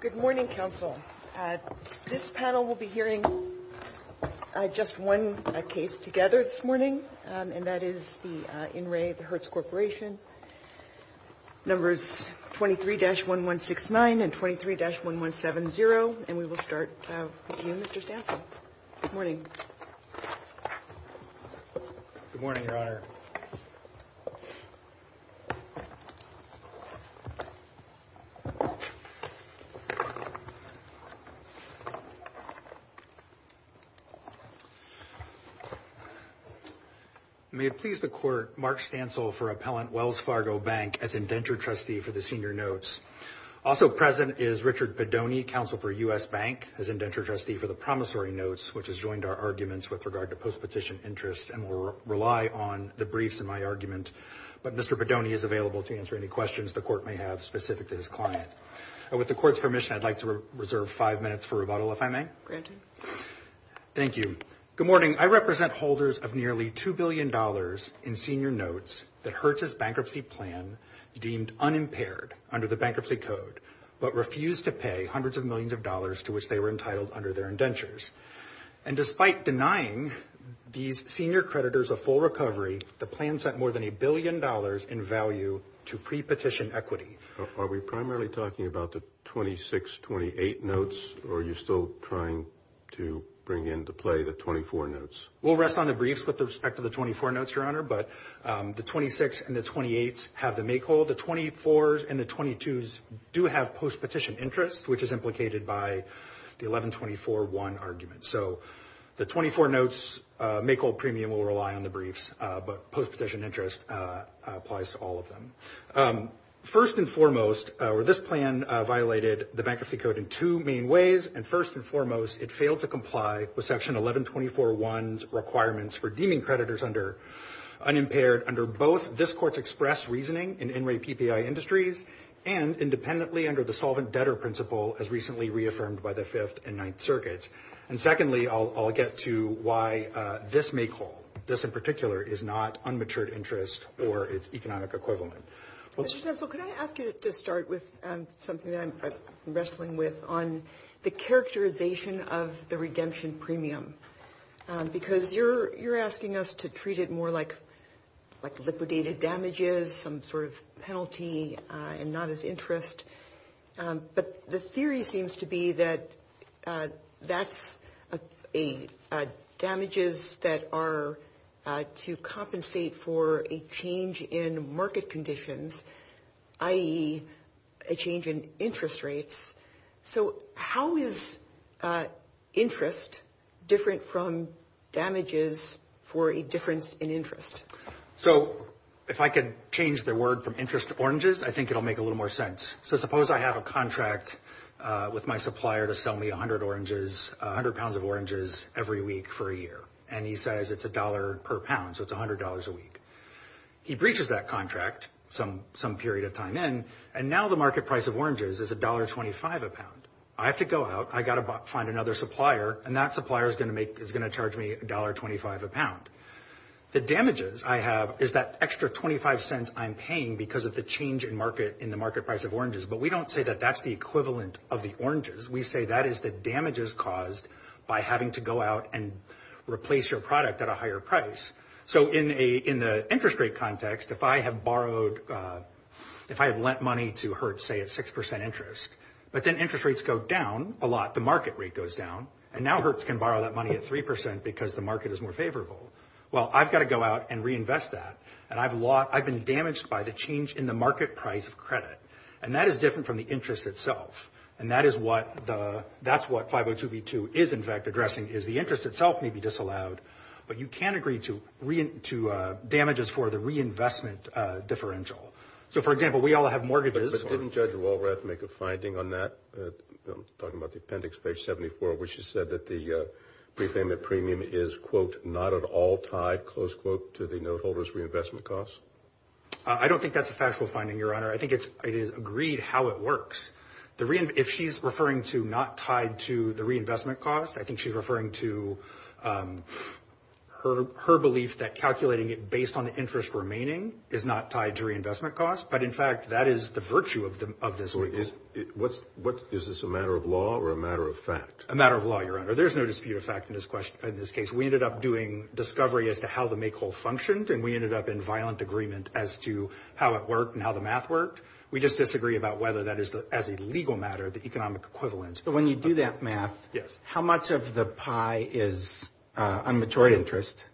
Good morning, counsel. This panel will be hearing just one case together this morning, and that is the inre Hertz Corporation, numbers 23-1169 and 23-1170. And we will start with you, Mr. Sample. Good morning. Good morning, Your Honor. May it please the Court, Mark Stansel for appellant Wells Fargo Bank as indentured trustee for the senior notes. Also present is Richard Padone, counsel for U.S. Bank as indentured trustee for the promissory notes, which has joined our arguments with regard to post-petition interests and will rely on the briefs in my argument. But Mr. Padone is available to answer any questions the Court may have specific to his client. And with the Court's permission, I'd like to reserve five minutes for rebuttal, if I may. Thank you. Thank you. Good morning. I represent holders of nearly $2 billion in senior notes that Hertz's bankruptcy plan deemed unimpaired under the bankruptcy code, but refused to pay hundreds of millions of dollars to which they were entitled under their indentures. And despite denying these senior creditors a full recovery, the plan sent more than a billion dollars in value to pre-petition equity. Are we primarily talking about the 26-28 notes, or are you still trying to bring into play the 24 notes? We'll rest on the briefs with respect to the 24 notes, Your Honor, but the 26 and the 28 have the make-hold. The 24s and the 22s do have post-petition interests, which is implicated by the 11-24-1 argument. So the 24 notes make-hold premium will rely on the briefs, but post-petition interest applies to all of them. First and foremost, this plan violated the bankruptcy code in two main ways, and first and foremost, it failed to comply with Section 11-24-1's requirements for deeming creditors unimpaired under both this Court's express reasoning in in-rate PPI industries and independently under the solvent debtor principle as recently reaffirmed by the Fifth and Ninth Circuits. And secondly, I'll get to why this make-hold, this in particular, is not unmatured interest or its economic equivalent. Counsel, could I ask you to start with something that I'm wrestling with on the characterization of the redemption premium? Because you're asking us to treat it more like liquidated damages, some sort of penalty and not as interest, but the theory seems to be that that's damages that are to compensate for a change in market conditions, i.e., a change in interest rates. So how is interest different from damages for a difference in interest? So if I could change the word from interest to oranges, I think it'll make a little more sense. So suppose I have a contract with my supplier to sell me 100 pounds of oranges every week for a year, and he says it's $1 per pound, so it's $100 a week. He breaches that contract some period of time in, and now the market price of oranges is $1.25 a pound. I have to go out, I've got to find another supplier, and that supplier is going to charge me $1.25 a pound. The damages I have is that extra $0.25 I'm paying because of the change in the market price of oranges, but we don't say that that's the equivalent of the oranges. We say that is the damages caused by having to go out and replace your product at a higher price. So in the interest rate context, if I have lent money to Hertz, say, at 6% interest, but then interest rates go down a lot, the market rate goes down, and now Hertz can borrow that money at 3% because the market is more favorable. Well, I've got to go out and reinvest that, and I've been damaged by the change in the market price of credit, and that is different from the interest itself, and that's what 502B2 is, in fact, addressing, is the interest itself may be disallowed, but you can't agree to damages for the reinvestment differential. So, for example, we all have mortgages. Didn't Judge Walrath make a finding on that, talking about the appendix, page 74, where she said that the repayment premium is, quote, not at all tied, close quote, to the note holder's reinvestment cost? I don't think that's a factual finding, Your Honor. I think it is agreed how it works. If she's referring to not tied to the reinvestment cost, I think she's referring to her belief that calculating it based on the interest remaining is not tied to reinvestment cost, but, in fact, that is the virtue of this witness. Is this a matter of law or a matter of fact? A matter of law, Your Honor. There's no dispute of fact in this case. We ended up doing discovery as to how the make whole functioned, and we ended up in violent agreement as to how it worked and how the math worked. We just disagree about whether that is, as a legal matter, the economic equivalence. But when you do that math, how much of the pie is unmatured interest,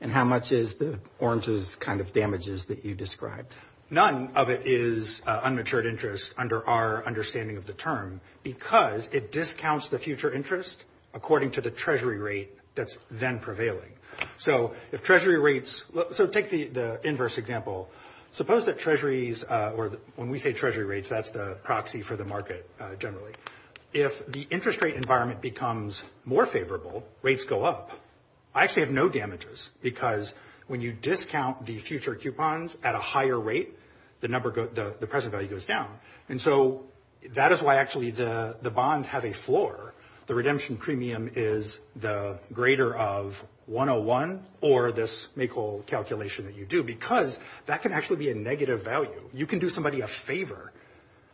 and how much is the orange's kind of damages that you described? None of it is unmatured interest under our understanding of the term because it discounts the future interest according to the treasury rate that's then prevailing. So if treasury rates – so take the inverse example. Suppose that treasuries – or when we say treasury rates, that's the proxy for the market generally. If the interest rate environment becomes more favorable, rates go up. I actually have no damages because when you discount the future coupons at a higher rate, the present value goes down. And so that is why actually the bonds have a floor. The redemption premium is the greater of 101 or this make whole calculation that you do because that can actually be a negative value. You can do somebody a favor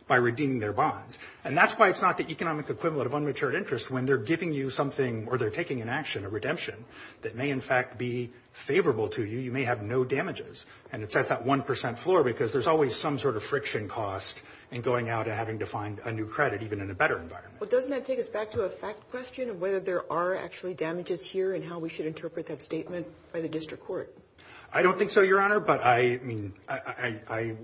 by redeeming their bonds. And that's why it's not the economic equivalent of unmatured interest when they're giving you something or they're taking an action, a redemption, that may in fact be favorable to you. You may have no damages. And it's at that 1% floor because there's always some sort of friction cost in going out and having to find a new credit even in a better environment. Well, doesn't that take us back to a fact question of whether there are actually damages here and how we should interpret that statement by the district court? I don't think so, Your Honor, but I mean I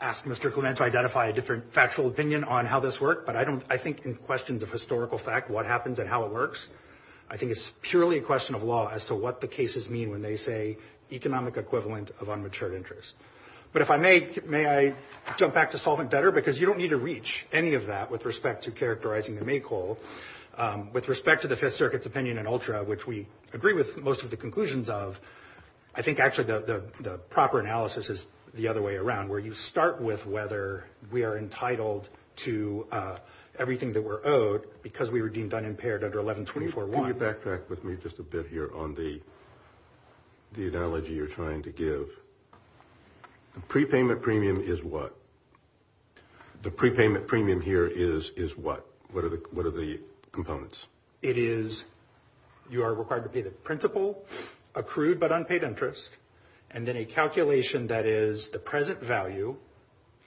asked Mr. Clement to identify a different factual opinion on how this worked, but I think in questions of historical fact, what happens and how it works, I think it's purely a question of law as to what the cases mean when they say economic equivalent of unmatured interest. But if I may, may I jump back to solvent better because you don't need to reach any of that with respect to characterizing the make whole. With respect to the Fifth Circuit's opinion in Ultra, which we agree with most of the conclusions of, I think actually the proper analysis is the other way around where you start with whether we are entitled to everything that we're owed because we were deemed unimpaired under 1124-1. Can you backtrack with me just a bit here on the analogy you're trying to give? The prepayment premium is what? The prepayment premium here is what? What are the components? It is you are required to pay the principal, accrued but unpaid interest, and then a calculation that is the present value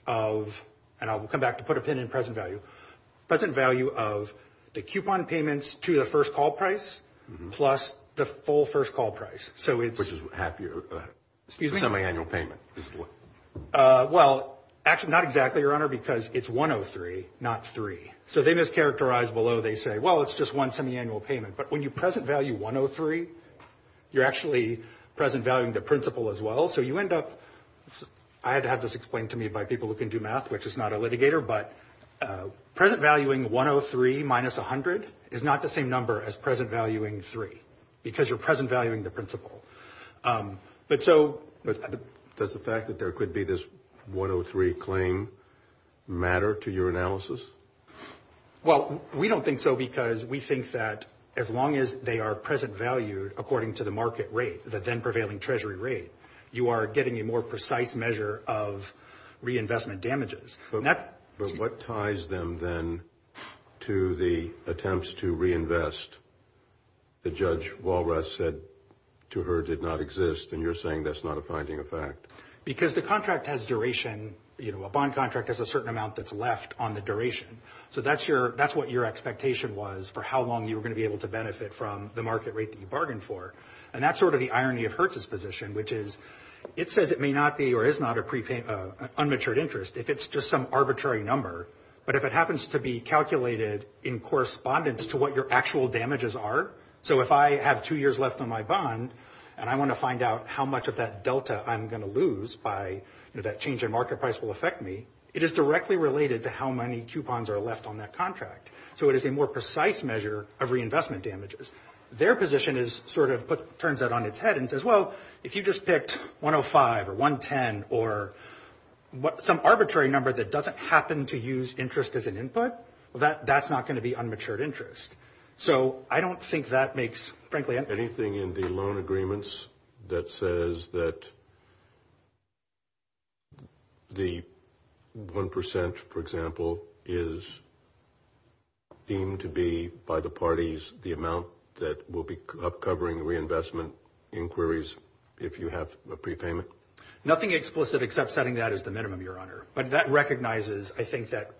of, and I'll come back to put a pin in present value, present value of the coupon payments to the first call price plus the full first call price. Which is half your semiannual payment. Well, not exactly, Your Honor, because it's 103, not three. So they mischaracterize below. They say, well, it's just one semiannual payment. But when you present value 103, you're actually present valuing the principal as well. So you end up, I had to have this explained to me by people who can do math, which is not a litigator, but present valuing 103 minus 100 is not the same number as present valuing three because you're present valuing the principal. But so does the fact that there could be this 103 claim matter to your analysis? Well, we don't think so, because we think that as long as they are present value according to the market rate, the then prevailing treasury rate, you are getting a more precise measure of reinvestment damages. But what ties them then to the attempts to reinvest that Judge Walras said to her did not exist, and you're saying that's not a finding of fact? Because the contract has duration. A bond contract has a certain amount that's left on the duration. So that's what your expectation was for how long you were going to be able to benefit from the market rate that you bargained for. And that's sort of the irony of Hertz's position, which is it says it may not be or is not an unmatured interest if it's just some arbitrary number. But if it happens to be calculated in correspondence to what your actual damages are, so if I have two years left on my bond, and I want to find out how much of that delta I'm going to lose by that change in market price will affect me, it is directly related to how many coupons are left on that contract. So it is a more precise measure of reinvestment damages. Their position turns that on its head and says, well, if you just picked 105 or 110 or some arbitrary number that doesn't happen to use interest as an input, that's not going to be unmatured interest. So I don't think that makes, frankly... Anything in the loan agreements that says that the 1%, for example, is deemed to be by the parties the amount that will be up covering reinvestment inquiries if you have a prepayment? Nothing explicit except setting that as the minimum, Your Honor. But that recognizes, I think, that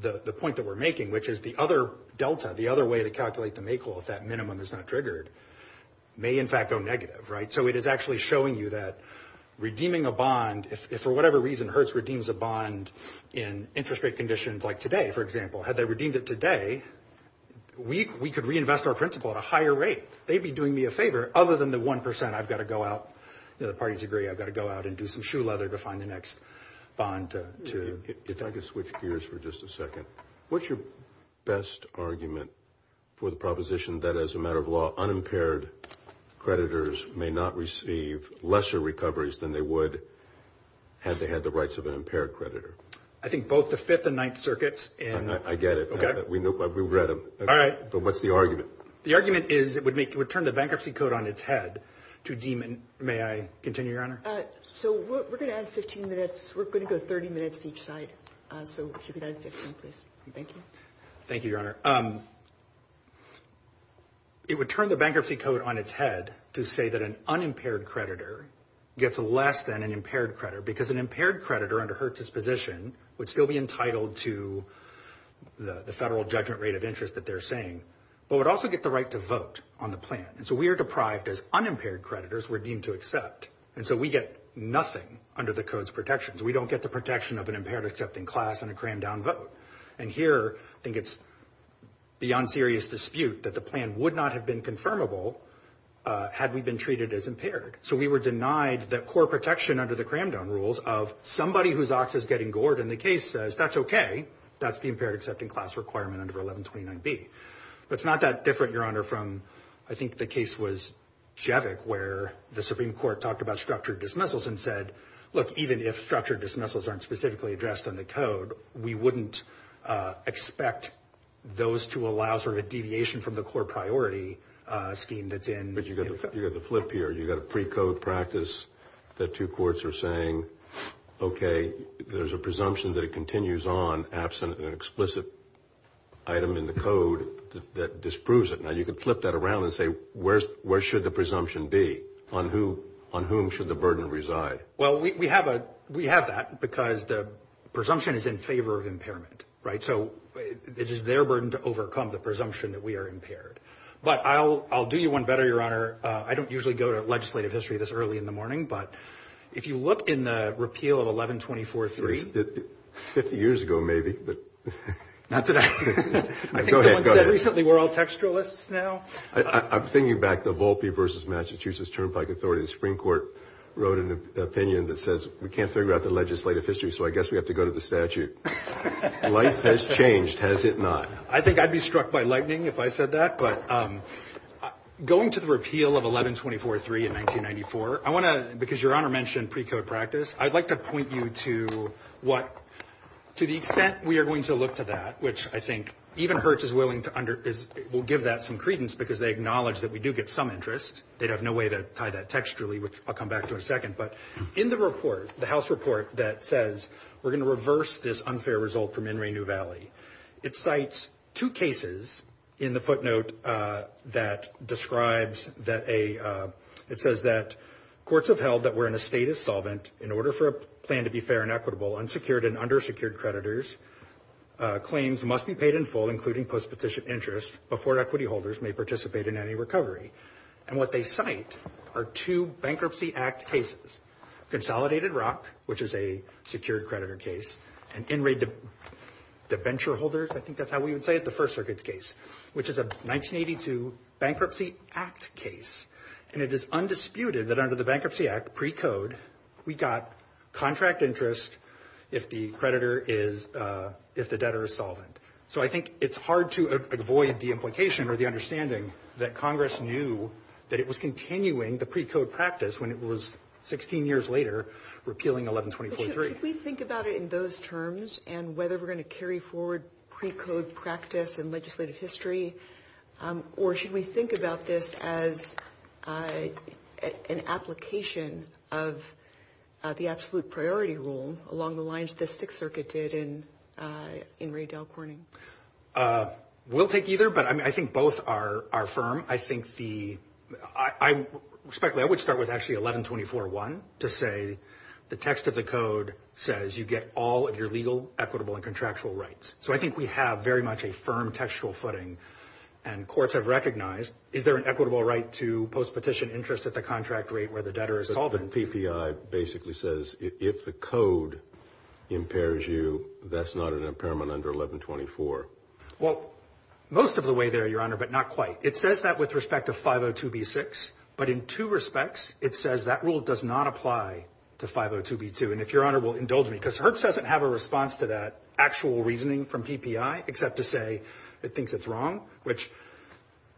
the point that we're making, which is the other delta, the other way to calculate the make-all if that minimum is not triggered, may in fact go negative, right? So it is actually showing you that redeeming a bond, if for whatever reason Hertz redeems a bond in interest rate conditions like today, for example, had they redeemed it today, we could reinvest our principal at a higher rate. They'd be doing me a favor other than the 1% I've got to go out, the parties agree I've got to go out and do some shoe leather to find the next bond. If I could switch gears for just a second. What's your best argument for the proposition that, as a matter of law, unimpaired creditors may not receive lesser recoveries than they would had they had the rights of an impaired creditor? I think both the Fifth and Ninth Circuits and... I get it. We've read them. All right. But what's the argument? The argument is it would turn the bankruptcy code on its head to deem it... May I continue, Your Honor? So we're going to add 15 minutes. We're going to go 30 minutes each side. So we should be done in 15 minutes. Thank you. Thank you, Your Honor. It would turn the bankruptcy code on its head to say that an unimpaired creditor gets less than an impaired creditor because an impaired creditor under Hertz's position would still be entitled to the federal judgment rate of interest that they're saying, but would also get the right to vote on the plan. And so we are deprived, as unimpaired creditors, we're deemed to accept. And so we get nothing under the code's protections. We don't get the protection of an impaired accepting class and a cram-down vote. And here I think it's beyond serious dispute that the plan would not have been confirmable had we been treated as impaired. So we were denied the core protection under the cram-down rules of somebody whose ox is getting gored, and the case says that's okay, that's the impaired accepting class requirement under 1129B. It's not that different, Your Honor, from I think the case was Jevic, where the Supreme Court talked about structured dismissals and said, look, even if structured dismissals aren't specifically addressed in the code, we wouldn't expect those to allow sort of a deviation from the core priority scheme that's in. But you've got the flip here. You've got a precode practice that two courts are saying, okay, there's a presumption that it continues on absent an explicit item in the code that disproves it. Now, you could flip that around and say, where should the presumption be? On whom should the burden reside? Well, we have that because the presumption is in favor of impairment, right? So it is their burden to overcome the presumption that we are impaired. But I'll do you one better, Your Honor. I don't usually go to legislative history this early in the morning, but if you look in the repeal of 1124.3. 50 years ago, maybe. Not today. Recently we're all textualists now. I'm thinking back to Volpe v. Massachusetts Turnpike Authority. The Supreme Court wrote an opinion that says we can't figure out the legislative history, so I guess we have to go to the statute. Life has changed, has it not? I think I'd be struck by lightning if I said that, but going to the repeal of 1124.3 in 1994, I want to – because Your Honor mentioned precode practice, I'd like to point you to what – to the extent we are going to look to that, which I think even Hertz is willing to – will give that some credence because they acknowledge that we do get some interest. They'd have no way to tie that textually, which I'll come back to in a second. But in the report, the House report that says we're going to reverse this unfair result from In Re New Valley, it cites two cases in the footnote that describes that a – it says that courts have held that we're in a state of solvent in order for a plan to be fair and equitable, unsecured and undersecured creditors. Claims must be paid in full, including post-petition interest, before equity holders may participate in any recovery. And what they cite are two Bankruptcy Act cases. Consolidated Rock, which is a secured creditor case, and In Re Deventure Holders, I think that's how we would say it, the First Circuit case, which is a 1982 Bankruptcy Act case. And it is undisputed that under the Bankruptcy Act precode, we got contract interest if the creditor is – if the debtor is solvent. So I think it's hard to avoid the implication or the understanding that Congress knew that it was continuing the precode practice when it was, 16 years later, repealing 11-2043. But should we think about it in those terms and whether we're going to carry forward precode practice and legislative history, or should we think about this as an application of the absolute priority rule along the lines that the Sixth Circuit did in Ray Dalcorny? We'll take either, but I think both are firm. I think the – I would start with actually 11-24-1 to say the text of the code says you get all of your legal, equitable, and contractual rights. So I think we have very much a firm textual footing. And courts have recognized, is there an equitable right to post-petition interest at the contract rate where the debtor is solvent? And PPI basically says if the code impairs you, that's not an impairment under 11-24. Well, most of the way there, Your Honor, but not quite. It says that with respect to 502b-6, but in two respects it says that rule does not apply to 502b-2. And if Your Honor will indulge me, because Hertz doesn't have a response to that actual reasoning from PPI except to say it thinks it's wrong, which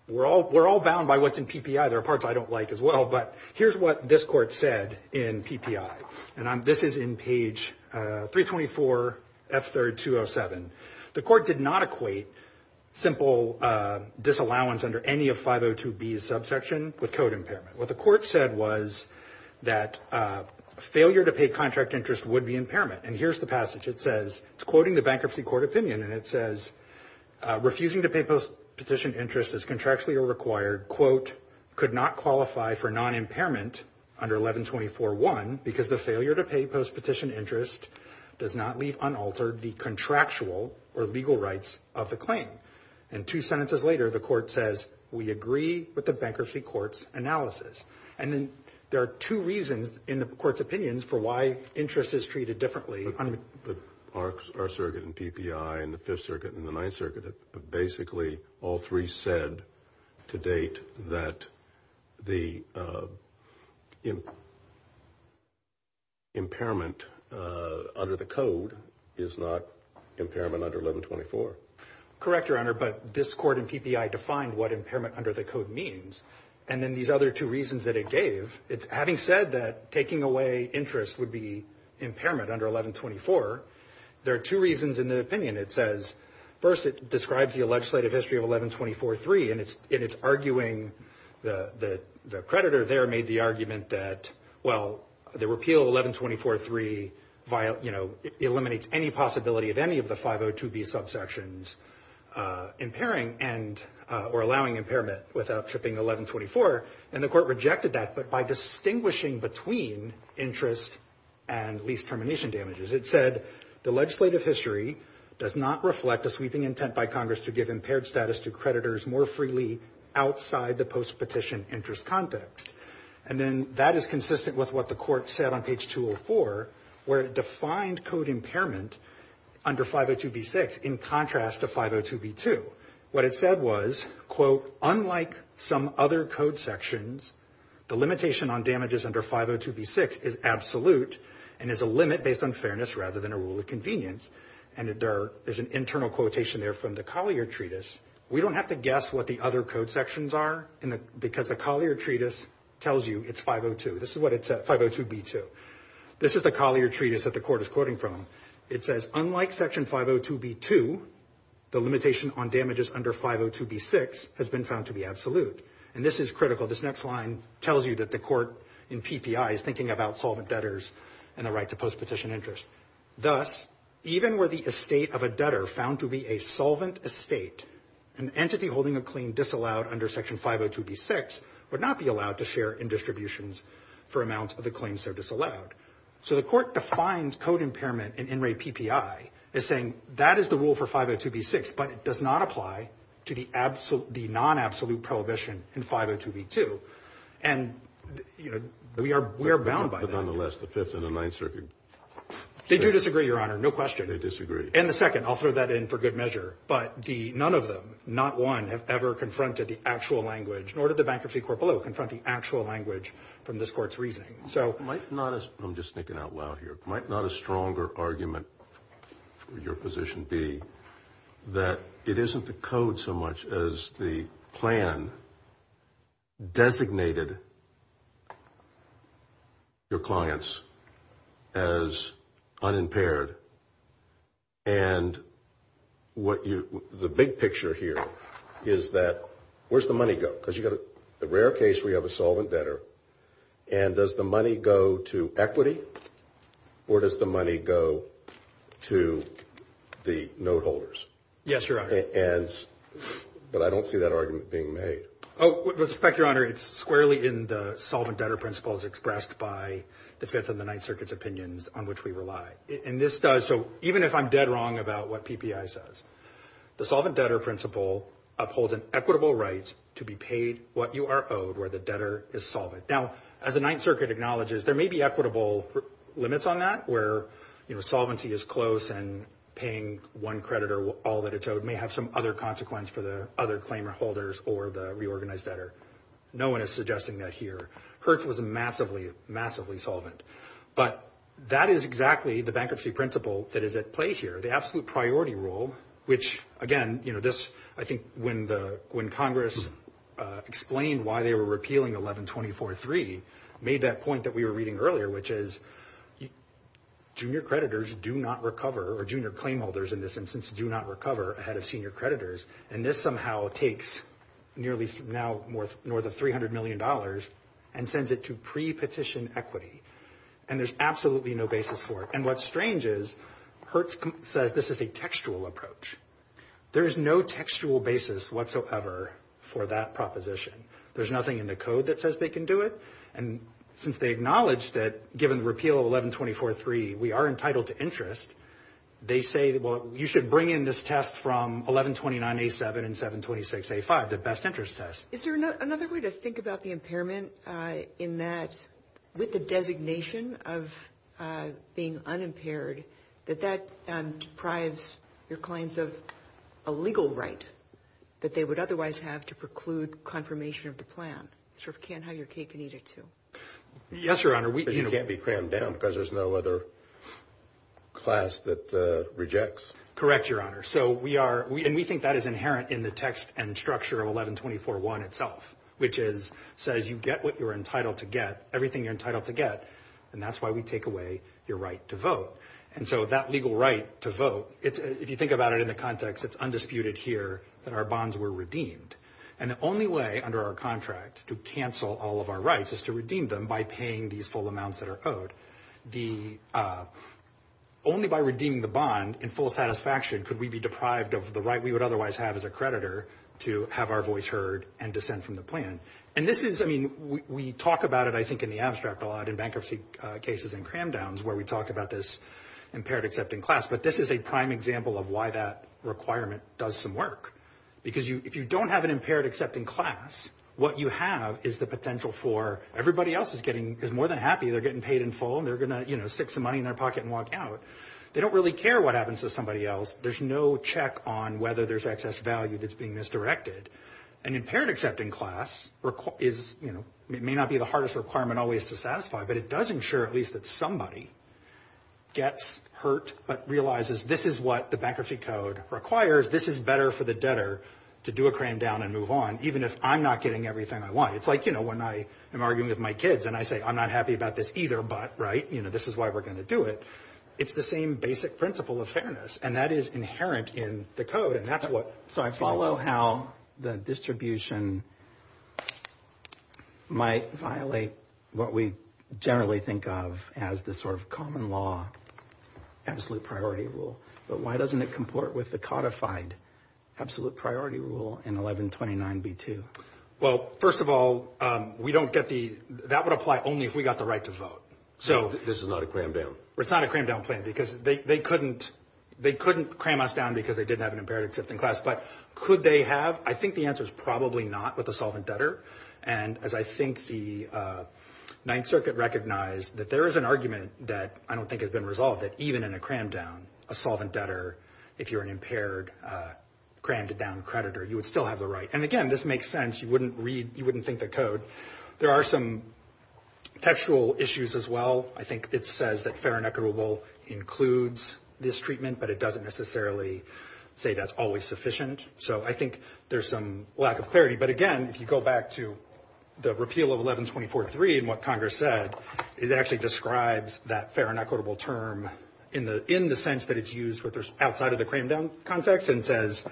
we're all bound by what's in PPI. There are parts I don't like as well, but here's what this court said in PPI. And this is in page 324, F-3rd, 207. The court did not equate simple disallowance under any of 502b's subsection with code impairment. What the court said was that failure to pay contract interest would be impairment. And here's the passage. It says, it's quoting the Bankruptcy Court Opinion, and it says, refusing to pay post-petition interest as contractually required, quote, could not qualify for non-impairment under 11-24-1 because the failure to pay post-petition interest does not leave unaltered the contractual or legal rights of the claim. And two sentences later, the court says, we agree with the Bankruptcy Court's analysis. And there are two reasons in the court's opinions for why interest is treated differently. Our circuit in PPI and the Fifth Circuit and the Ninth Circuit, basically all three said to date that the impairment under the code is not impairment under 11-24. Correct, Your Honor, but this court in PPI defined what impairment under the code means. And then these other two reasons that it gave, it's having said that taking away interest would be impairment under 11-24, there are two reasons in the opinion. It says, first, it describes the legislative history of 11-24-3, and it's arguing the creditor there made the argument that, well, the repeal of 11-24-3 eliminates any possibility of any of the 502B subsections impairing or allowing impairment without shipping 11-24, and the court rejected that. But by distinguishing between interest and lease termination damages, it said the legislative history does not reflect a sweeping intent by Congress to give impaired status to creditors more freely outside the post-petition interest context. And then that is consistent with what the court said on page 204, where it defined code impairment under 502B-6 in contrast to 502B-2. What it said was, quote, unlike some other code sections, the limitation on damages under 502B-6 is absolute and is a limit based on fairness rather than a rule of convenience. And there's an internal quotation there from the Collier Treatise. We don't have to guess what the other code sections are because the Collier Treatise tells you it's 502. This is what it said, 502B-2. This is the Collier Treatise that the court is quoting from. It says, unlike Section 502B-2, the limitation on damages under 502B-6 has been found to be absolute. And this is critical. This next line tells you that the court in PPI is thinking about solvent debtors and the right to post-petition interest. Thus, even were the estate of a debtor found to be a solvent estate, an entity holding a claim disallowed under Section 502B-6 would not be allowed to share in distributions for amounts of the claims that are disallowed. So the court defines code impairment in NRA PPI as saying that is the rule for 502B-6, but it does not apply to the non-absolute prohibition in 502B-2. And we are bound by that. Nonetheless, the fifth and the ninth circuit. Did you disagree, Your Honor? No question. I disagree. And the second. I'll throw that in for good measure. But none of them, not one, have ever confronted the actual language, nor did the bankruptcy court below confront the actual language from this court's reasoning. I'm just speaking out loud here. Might not a stronger argument for your position be that it isn't the code so much as the plan designated your clients as unimpaired and the big picture here is that where's the money go? Because you've got a rare case where you have a solvent debtor, and does the money go to equity or does the money go to the note holders? Yes, Your Honor. But I don't see that argument being made. In fact, Your Honor, it's squarely in the solvent debtor principles expressed by the fifth and the ninth circuit's opinions on which we rely. And this does, so even if I'm dead wrong about what TPI says, the solvent debtor principle upholds an equitable right to be paid what you are owed where the debtor is solvent. Now, as the ninth circuit acknowledges, there may be equitable limits on that where, you know, solvency is close and paying one credit or all that it's owed may have some other consequence for the other claimant holders or the reorganized debtor. No one is suggesting that here. Hertz was massively, massively solvent. But that is exactly the bankruptcy principle that is at play here. The absolute priority rule, which, again, you know, this, I think, when Congress explained why they were repealing 1124.3 made that point that we were reading earlier, which is junior creditors do not recover, or junior claim holders in this instance, do not recover ahead of senior creditors. And this somehow takes nearly now more than $300 million and sends it to pre-petition equity. And there's absolutely no basis for it. And what's strange is Hertz says this is a textual approach. There is no textual basis whatsoever for that proposition. There's nothing in the code that says they can do it. And since they acknowledge that, given repeal of 1124.3, we are entitled to interest, they say, well, you should bring in this test from 1129.87 and 726.85, the best interest test. Is there another way to think about the impairment in that, with the designation of being unimpaired, that that deprives your clients of a legal right that they would otherwise have to preclude confirmation of the plan? You can't have your cake and eat it, too. Yes, Your Honor. So you can't be crammed down because there's no other class that rejects? Correct, Your Honor. And we think that is inherent in the text and structure of 1124.1 itself, which says you get what you're entitled to get, everything you're entitled to get, and that's why we take away your right to vote. And so that legal right to vote, if you think about it in the context, it's undisputed here that our bonds were redeemed. And the only way under our contract to cancel all of our rights is to redeem them by paying these full amounts that are owed. Only by redeeming the bond in full satisfaction could we be deprived of the right we would otherwise have as a creditor to have our voice heard and descend from the plan. And this is, I mean, we talk about it, I think, in the abstract a lot in bankruptcy cases and cram downs, where we talk about this impaired accepting class, but this is a prime example of why that requirement does some work. Because if you don't have an impaired accepting class, what you have is the potential for everybody else is more than happy they're getting paid in full and they're going to stick some money in their pocket and walk out. They don't really care what happens to somebody else. There's no check on whether there's excess value that's being misdirected. An impaired accepting class may not be the hardest requirement always to satisfy, but it does ensure at least that somebody gets hurt but realizes this is what the bankruptcy code requires, this is better for the debtor to do a cram down and move on, even if I'm not getting everything I want. It's like, you know, when I am arguing with my kids and I say, I'm not happy about this either. But right. You know, this is why we're going to do it. It's the same basic principle of fairness. And that is inherent in the code. And that's what I follow, how the distribution might violate what we generally think of as the sort of common law. Absolute priority rule. But why doesn't it comport with the codified absolute priority rule in 1129B2? Well, first of all, we don't get the that would apply only if we got the right to vote. So this is not a cram down. It's not a cram down plan because they couldn't they couldn't cram us down because they didn't have an impaired accepting class. But could they have? I think the answer is probably not with the solvent debtor. And as I think the Ninth Circuit recognized that there is an argument that I don't think has been resolved, that even in a cram down, a solvent debtor, if you're an impaired crammed down creditor, you would still have the right. And again, this makes sense. You wouldn't read you wouldn't think the code. There are some textual issues as well. I think it says that fair and equitable includes this treatment, but it doesn't necessarily say that's always sufficient. So I think there's some lack of clarity. But again, if you go back to the repeal of 1124.3 and what Congress said, it actually describes that fair and equitable term in the in the sense that it's used with this outside of the cram down context and says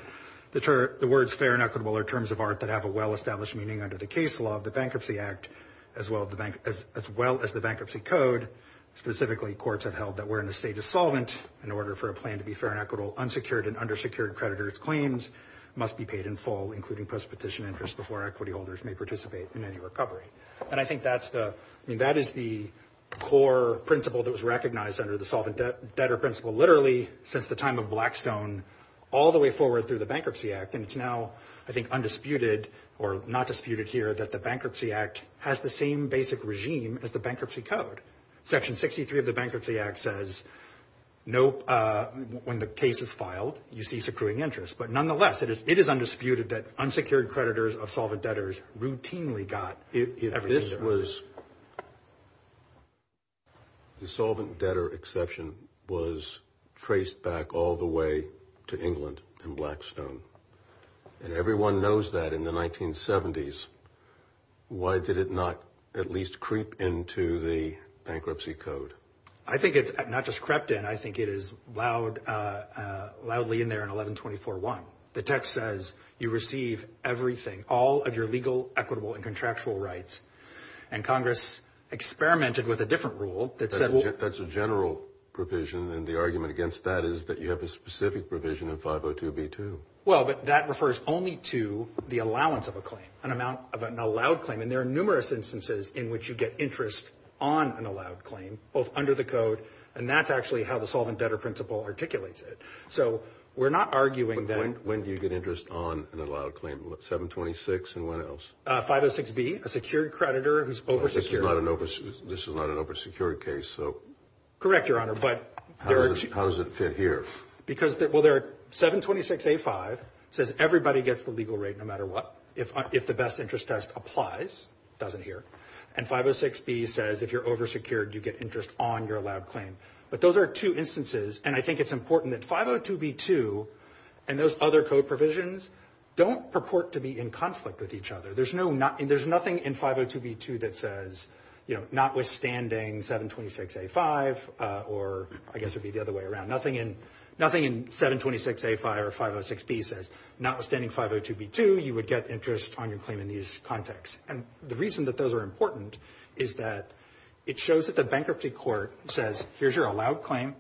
that the words fair and equitable are terms of art that have a well-established meaning under the case law of the Bankruptcy Act, as well as the Bankruptcy Code. Specifically, courts have held that we're in a state of solvent in order for a plan to be fair and equitable. Unsecured and undersecured creditors claims must be paid in full, including post-petition interest before equity holders may participate in any recovery. And I think that's the I mean, that is the core principle that was recognized under the solvent debt debtor principle, literally since the time of Blackstone all the way forward through the Bankruptcy Act. And it's now, I think, undisputed or not disputed here that the Bankruptcy Act has the same basic regime as the Bankruptcy Code. Section 63 of the Bankruptcy Act says no. When the case is filed, you see securing interest. But nonetheless, it is it is undisputed that unsecured creditors of solvent debtors routinely got it. This was the solvent debtor exception was traced back all the way to England and Blackstone. And everyone knows that in the 1970s. Why did it not at least creep into the bankruptcy code? I think it's not just crept in. I think it is loud, loudly in there in 1124. One, the text says you receive everything, all of your legal, equitable and contractual rights. And Congress experimented with a different rule. That's a general provision. And the argument against that is that you have a specific provision of 502 B2. Well, but that refers only to the allowance of a claim, an amount of an allowed claim. And there are numerous instances in which you get interest on an allowed claim under the code. And that's actually how the solvent debtor principle articulates it. So we're not arguing that when you get interest on an allowed claim, what, 726 and what else? Five or six be a secured creditor who's over. You're not an over. This is not an oversecured case. So. Correct, Your Honor. But how does it fit here? Because, well, there are 726 A5 says everybody gets the legal rate no matter what. If if the best interest test applies, it doesn't here. And 506 B says if you're oversecured, you get interest on your lab claim. But those are two instances. And I think it's important that 502 B2 and those other code provisions don't purport to be in conflict with each other. There's no not and there's nothing in 502 B2 that says, you know, notwithstanding 726 A5 or I guess it'd be the other way around. Nothing in nothing in 726 A5 or 506 B says notwithstanding 502 B2, you would get interest on your claim in these contexts. And the reason that those are important is that it shows that the bankruptcy court says, here's your allowed claim.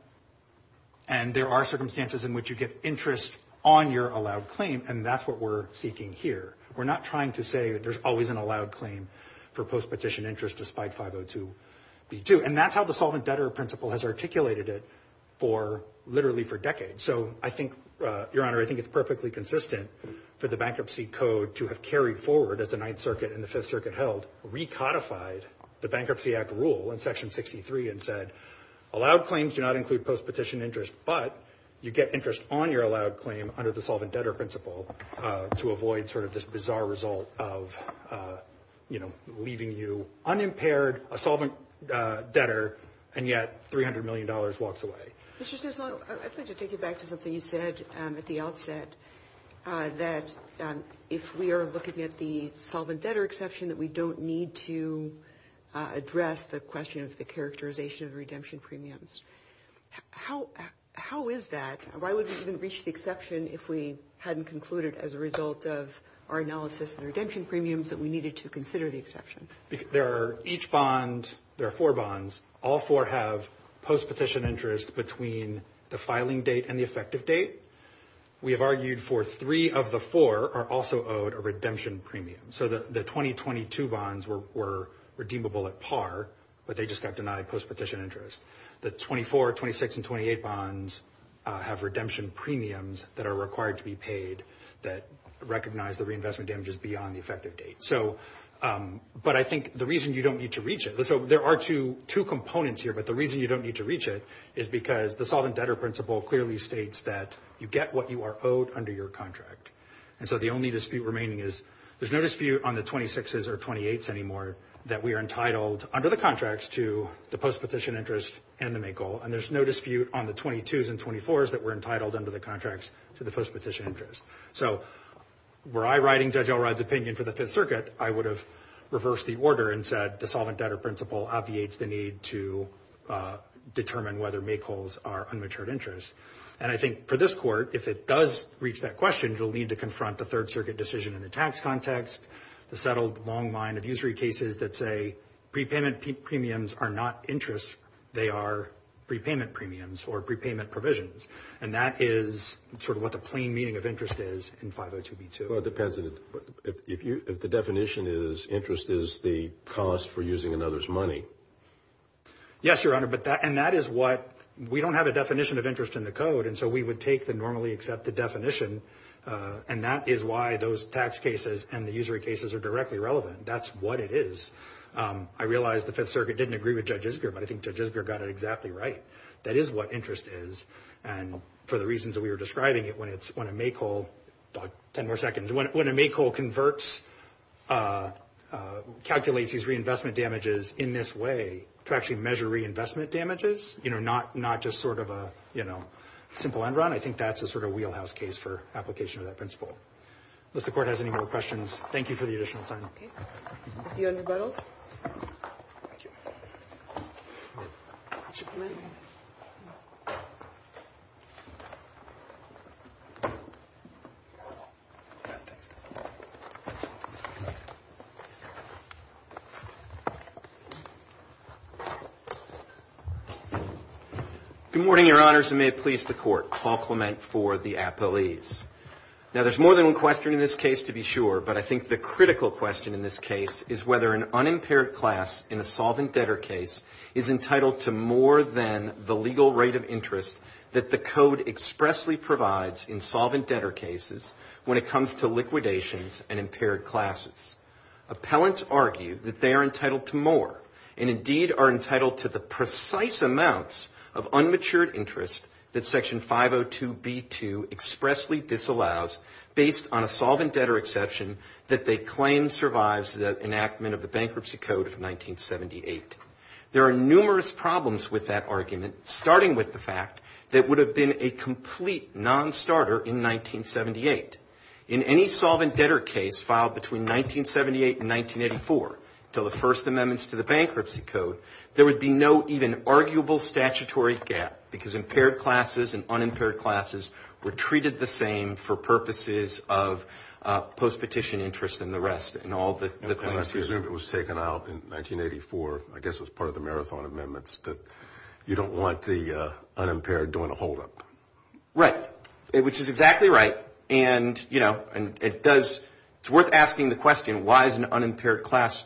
And there are circumstances in which you get interest on your allowed claim, and that's what we're seeking here. We're not trying to say there's always an allowed claim for post petition interest, despite 502 B2. And that's how the solvent debtor principle has articulated it for literally for decades. So I think, Your Honor, I think it's perfectly consistent for the bankruptcy code to have carried forward as the Ninth Circuit and the Fifth Circuit held. We codified the Bankruptcy Act rule in Section 63 and said, allowed claims do not include post petition interest. But you get interest on your allowed claim under the solvent debtor principle to avoid sort of this bizarre result of, you know, leaving you unimpaired, a solvent debtor, and yet $300 million walks away. I'd like to take you back to something you said at the outset, that if we are looking at the solvent debtor exception, that we don't need to address the question of the characterization of redemption premiums. How is that? Why would we even reach the exception if we hadn't concluded as a result of our analysis and redemption premiums that we needed to consider the exception? There are each bond, there are four bonds. All four have post petition interest between the filing date and the effective date. We have argued for three of the four are also owed a redemption premium. So the 2022 bonds were redeemable at par, but they just got denied post petition interest. The 24, 26, and 28 bonds have redemption premiums that are required to be paid that recognize the reinvestment damages beyond the effective date. But I think the reason you don't need to reach it, there are two components here, but the reason you don't need to reach it is because the solvent debtor principle clearly states that you get what you are owed under your contract. And so the only dispute remaining is there's no dispute on the 26s or 28s anymore that we are entitled under the contracts to the post petition interest and the MAKL. And there's no dispute on the 22s and 24s that we're entitled under the contracts to the post petition interest. So were I writing Judge Elrod's opinion for the Fifth Circuit, I would have reversed the order and said the solvent debtor principle obviates the need to determine whether MAKLs are unmatured interests. And I think for this court, if it does reach that question, you'll need to confront the Third Circuit decision in the tax context, the settled long line of usury cases that say prepayment premiums are not interests, they are prepayment premiums or prepayment provisions. And that is sort of what the plain meaning of interest is in 502B2. Well, it depends if the definition is interest is the cost for using another's money. Yes, Your Honor, and that is what we don't have a definition of interest in the code, and so we would take the normally accepted definition. And that is why those tax cases and the usury cases are directly relevant. That's what it is. I realize the Fifth Circuit didn't agree with Judge Isger, but I think Judge Isger got it exactly right. That is what interest is. And for the reasons that we were describing, when a MAKL converts, calculates these reinvestment damages in this way, to actually measure reinvestment damages, you know, not just sort of a, you know, simple end run, I think that's a sort of wheelhouse case for application of that principle. If the court has any more questions, thank you for the additional time. Thank you. Thank you. Good morning, Your Honors, and may it please the court. Paul Clement for the appellees. Now, there's more than one question in this case, to be sure, but I think the critical question in this case is whether an unimpaired class in a solvent debtor case is entitled to more than the legal rate of interest that the code expressly provides in solvent debtor cases when it comes to liquidations and impaired classes. Appellants argue that they are entitled to more, and indeed are entitled to the precise amounts of unmatured interest that Section 502B2 expressly disallows based on a solvent debtor exception that they claim survives the enactment of the Bankruptcy Code of 1978. There are numerous problems with that argument, starting with the fact that it would have been a complete non-starter in 1978. In any solvent debtor case filed between 1978 and 1984, until the first amendments to the Bankruptcy Code, there would be no even arguable statutory gap, because impaired classes and unimpaired classes were treated the same for purposes of post-petition interest and the rest. And I presume it was taken out in 1984, I guess it was part of the Marathon Amendments, that you don't want the unimpaired doing a holdup. Right, which is exactly right, and it's worth asking the question, why is an unimpaired class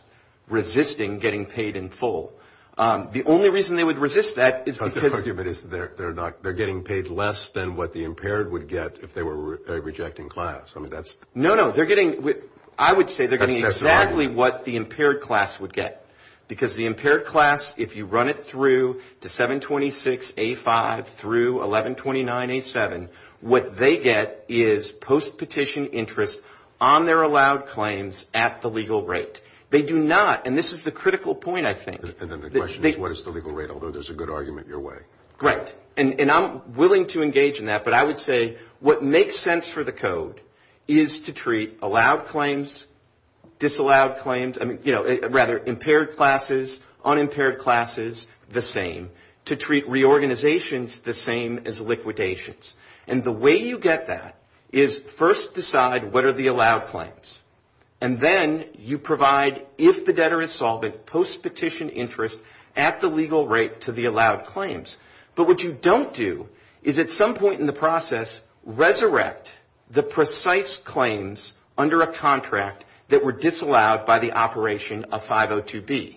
resisting getting paid in full? The only reason they would resist that is because... They're getting paid less than what the impaired would get if they were a rejecting class. No, no, I would say they're getting exactly what the impaired class would get, because the impaired class, if you run it through to 726A5 through 1129A7, what they get is post-petition interest on their allowed claims at the legal rate. They do not, and this is the critical point, I think... And then the question is, what is the legal rate, although there's a good argument your way. Right, and I'm willing to engage in that, but I would say, what makes sense for the Code is to treat allowed claims, disallowed claims, I mean, you know, rather impaired classes, unimpaired classes the same, to treat reorganizations the same as liquidations. And the way you get that is first decide what are the allowed claims, and then you provide, if the debtor is solvent, post-petition interest at the legal rate to the allowed claims. But what you don't do is, at some point in the process, resurrect the precise claims under a contract that were disallowed by the operation of 502B.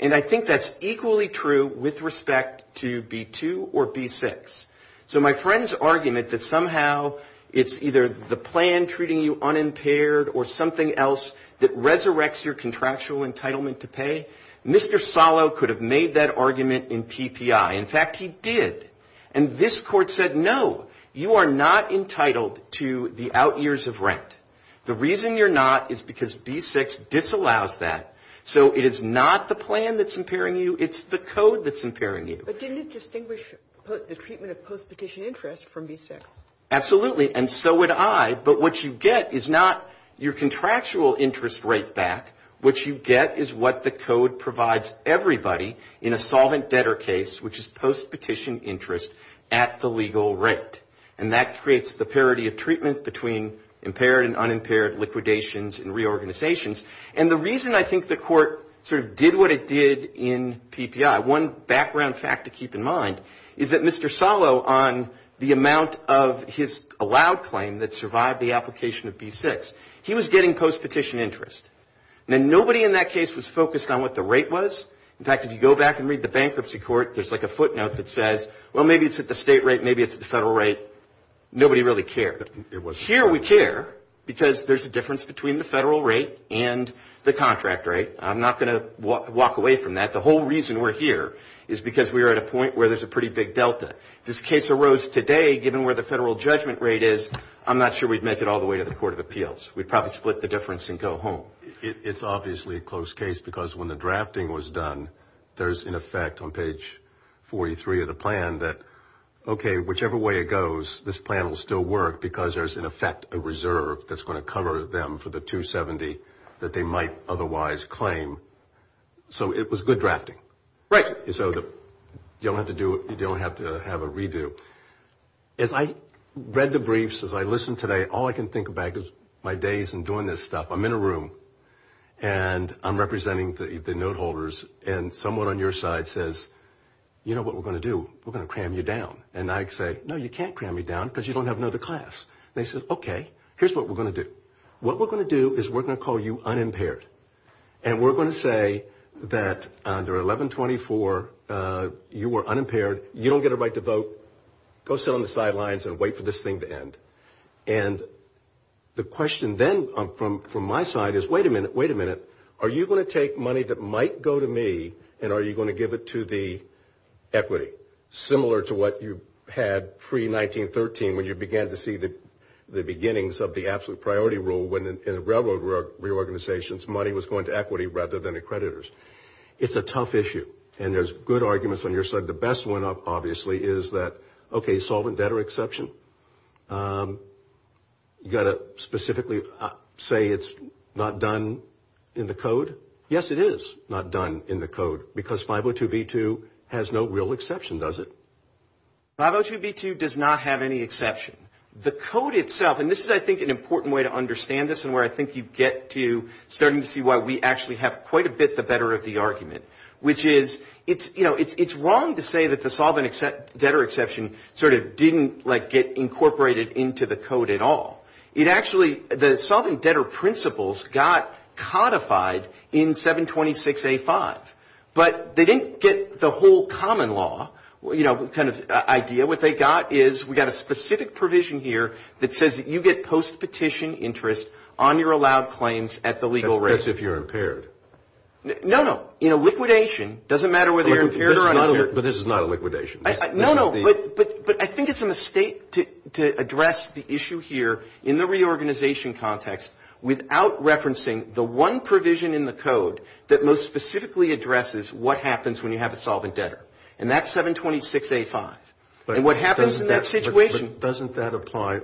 And I think that's equally true with respect to B2 or B6. So my friend's argument that somehow it's either the plan treating you unimpaired or something else that resurrects your contractual entitlement to pay, Mr. Salo could have made that argument in TPI. In fact, he did. And this Court said, no, you are not entitled to the out years of rent. The reason you're not is because B6 disallows that. So it is not the plan that's impairing you, it's the Code that's impairing you. But didn't it distinguish the treatment of post-petition interest from B6? Absolutely, and so would I. But what you get is not your contractual interest rate back. What you get is what the Code provides everybody in a solvent debtor case, which is post-petition interest at the legal rate. And that creates the parity of treatment between impaired and unimpaired liquidations and reorganizations. And the reason I think the Court sort of did what it did in PPI, one background fact to keep in mind, is that Mr. Salo on the amount of his allowed claim that survived the application of B6, he was getting post-petition interest. And nobody in that case was focused on what the rate was. In fact, if you go back and read the bankruptcy court, there's like a footnote that says, well, maybe it's at the state rate, maybe it's at the federal rate. Nobody really cared. Here we care because there's a difference between the federal rate and the contract rate. I'm not going to walk away from that. The whole reason we're here is because we are at a point where there's a pretty big delta. If this case arose today, given where the federal judgment rate is, I'm not sure we'd make it all the way to the Court of Appeals. We'd probably split the difference and go home. It's obviously a close case because when the drafting was done, there's an effect on page 43 of the plan that, okay, whichever way it goes, this plan will still work because there's, in effect, a reserve that's going to cover them for the 270 that they might otherwise claim. So it was good drafting. Right. So you don't have to have a redo. As I read the briefs, as I listened today, all I can think about is my days in doing this stuff. I'm in a room, and I'm representing the note holders, and someone on your side says, you know what we're going to do? We're going to cram you down. And I say, no, you can't cram me down because you don't have another class. They say, okay, here's what we're going to do. What we're going to do is we're going to call you unimpaired, and we're going to say that under 1124, you were unimpaired. You don't get a right to vote. Go sit on the sidelines and wait for this thing to end. And the question then from my side is, wait a minute, wait a minute. Are you going to take money that might go to me, and are you going to give it to the equity? Similar to what you had pre-1913 when you began to see the beginnings of the absolute priority rule when in railroad reorganizations, money was going to equity rather than accreditors. It's a tough issue, and there's good arguments on your side. The best one, obviously, is that, okay, solvent debtor exception. You've got to specifically say it's not done in the code. Yes, it is not done in the code because 502B2 has no real exception, does it? 502B2 does not have any exception. The code itself, and this is, I think, an important way to understand this and where I think you get to starting to see why we actually have quite a bit the better of the argument, which is it's wrong to say that the solvent debtor exception sort of didn't get incorporated into the code at all. The solvent debtor principles got codified in 726A5, but they didn't get the whole common law idea. What they got is we got a specific provision here that says you get post-petition interest on your allowed claims at the legal rate. That's if you're impaired. No, no. In a liquidation, it doesn't matter whether you're impaired or unimpaired. But this is not a liquidation. No, no, but I think it's an estate to address the issue here in the reorganization context without referencing the one provision in the code that most specifically addresses what happens when you have a solvent debtor, and that's 726A5, and what happens in that situation. But doesn't that apply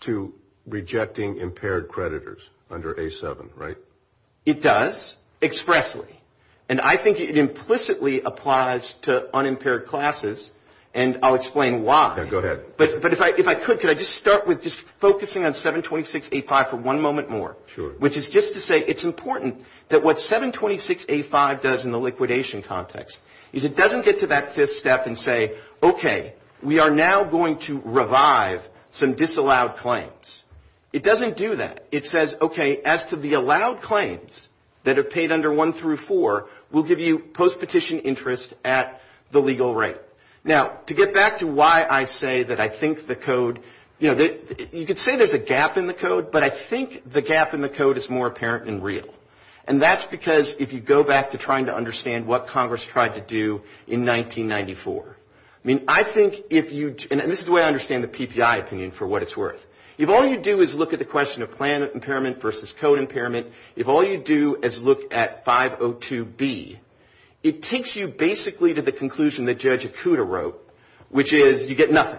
to rejecting impaired creditors under A7, right? It does expressly, and I think it implicitly applies to unimpaired classes, and I'll explain why. Go ahead. But if I could, can I just start with just focusing on 726A5 for one moment more? Sure. Which is just to say it's important that what 726A5 does in the liquidation context is it doesn't get to that fifth step and say, okay, we are now going to revive some disallowed claims. It doesn't do that. It says, okay, as to the allowed claims that are paid under 1 through 4, we'll give you post-petition interest at the legal rate. Now, to get back to why I say that I think the code, you know, you could say there's a gap in the code, but I think the gap in the code is more apparent than real, and that's because if you go back to trying to understand what Congress tried to do in 1994, I mean, I think if you, and this is the way I understand the PPI opinion for what it's worth. If all you do is look at the question of plan impairment versus code impairment, if all you do is look at 502B, it takes you basically to the conclusion that Judge Okuda wrote, which is you get nothing.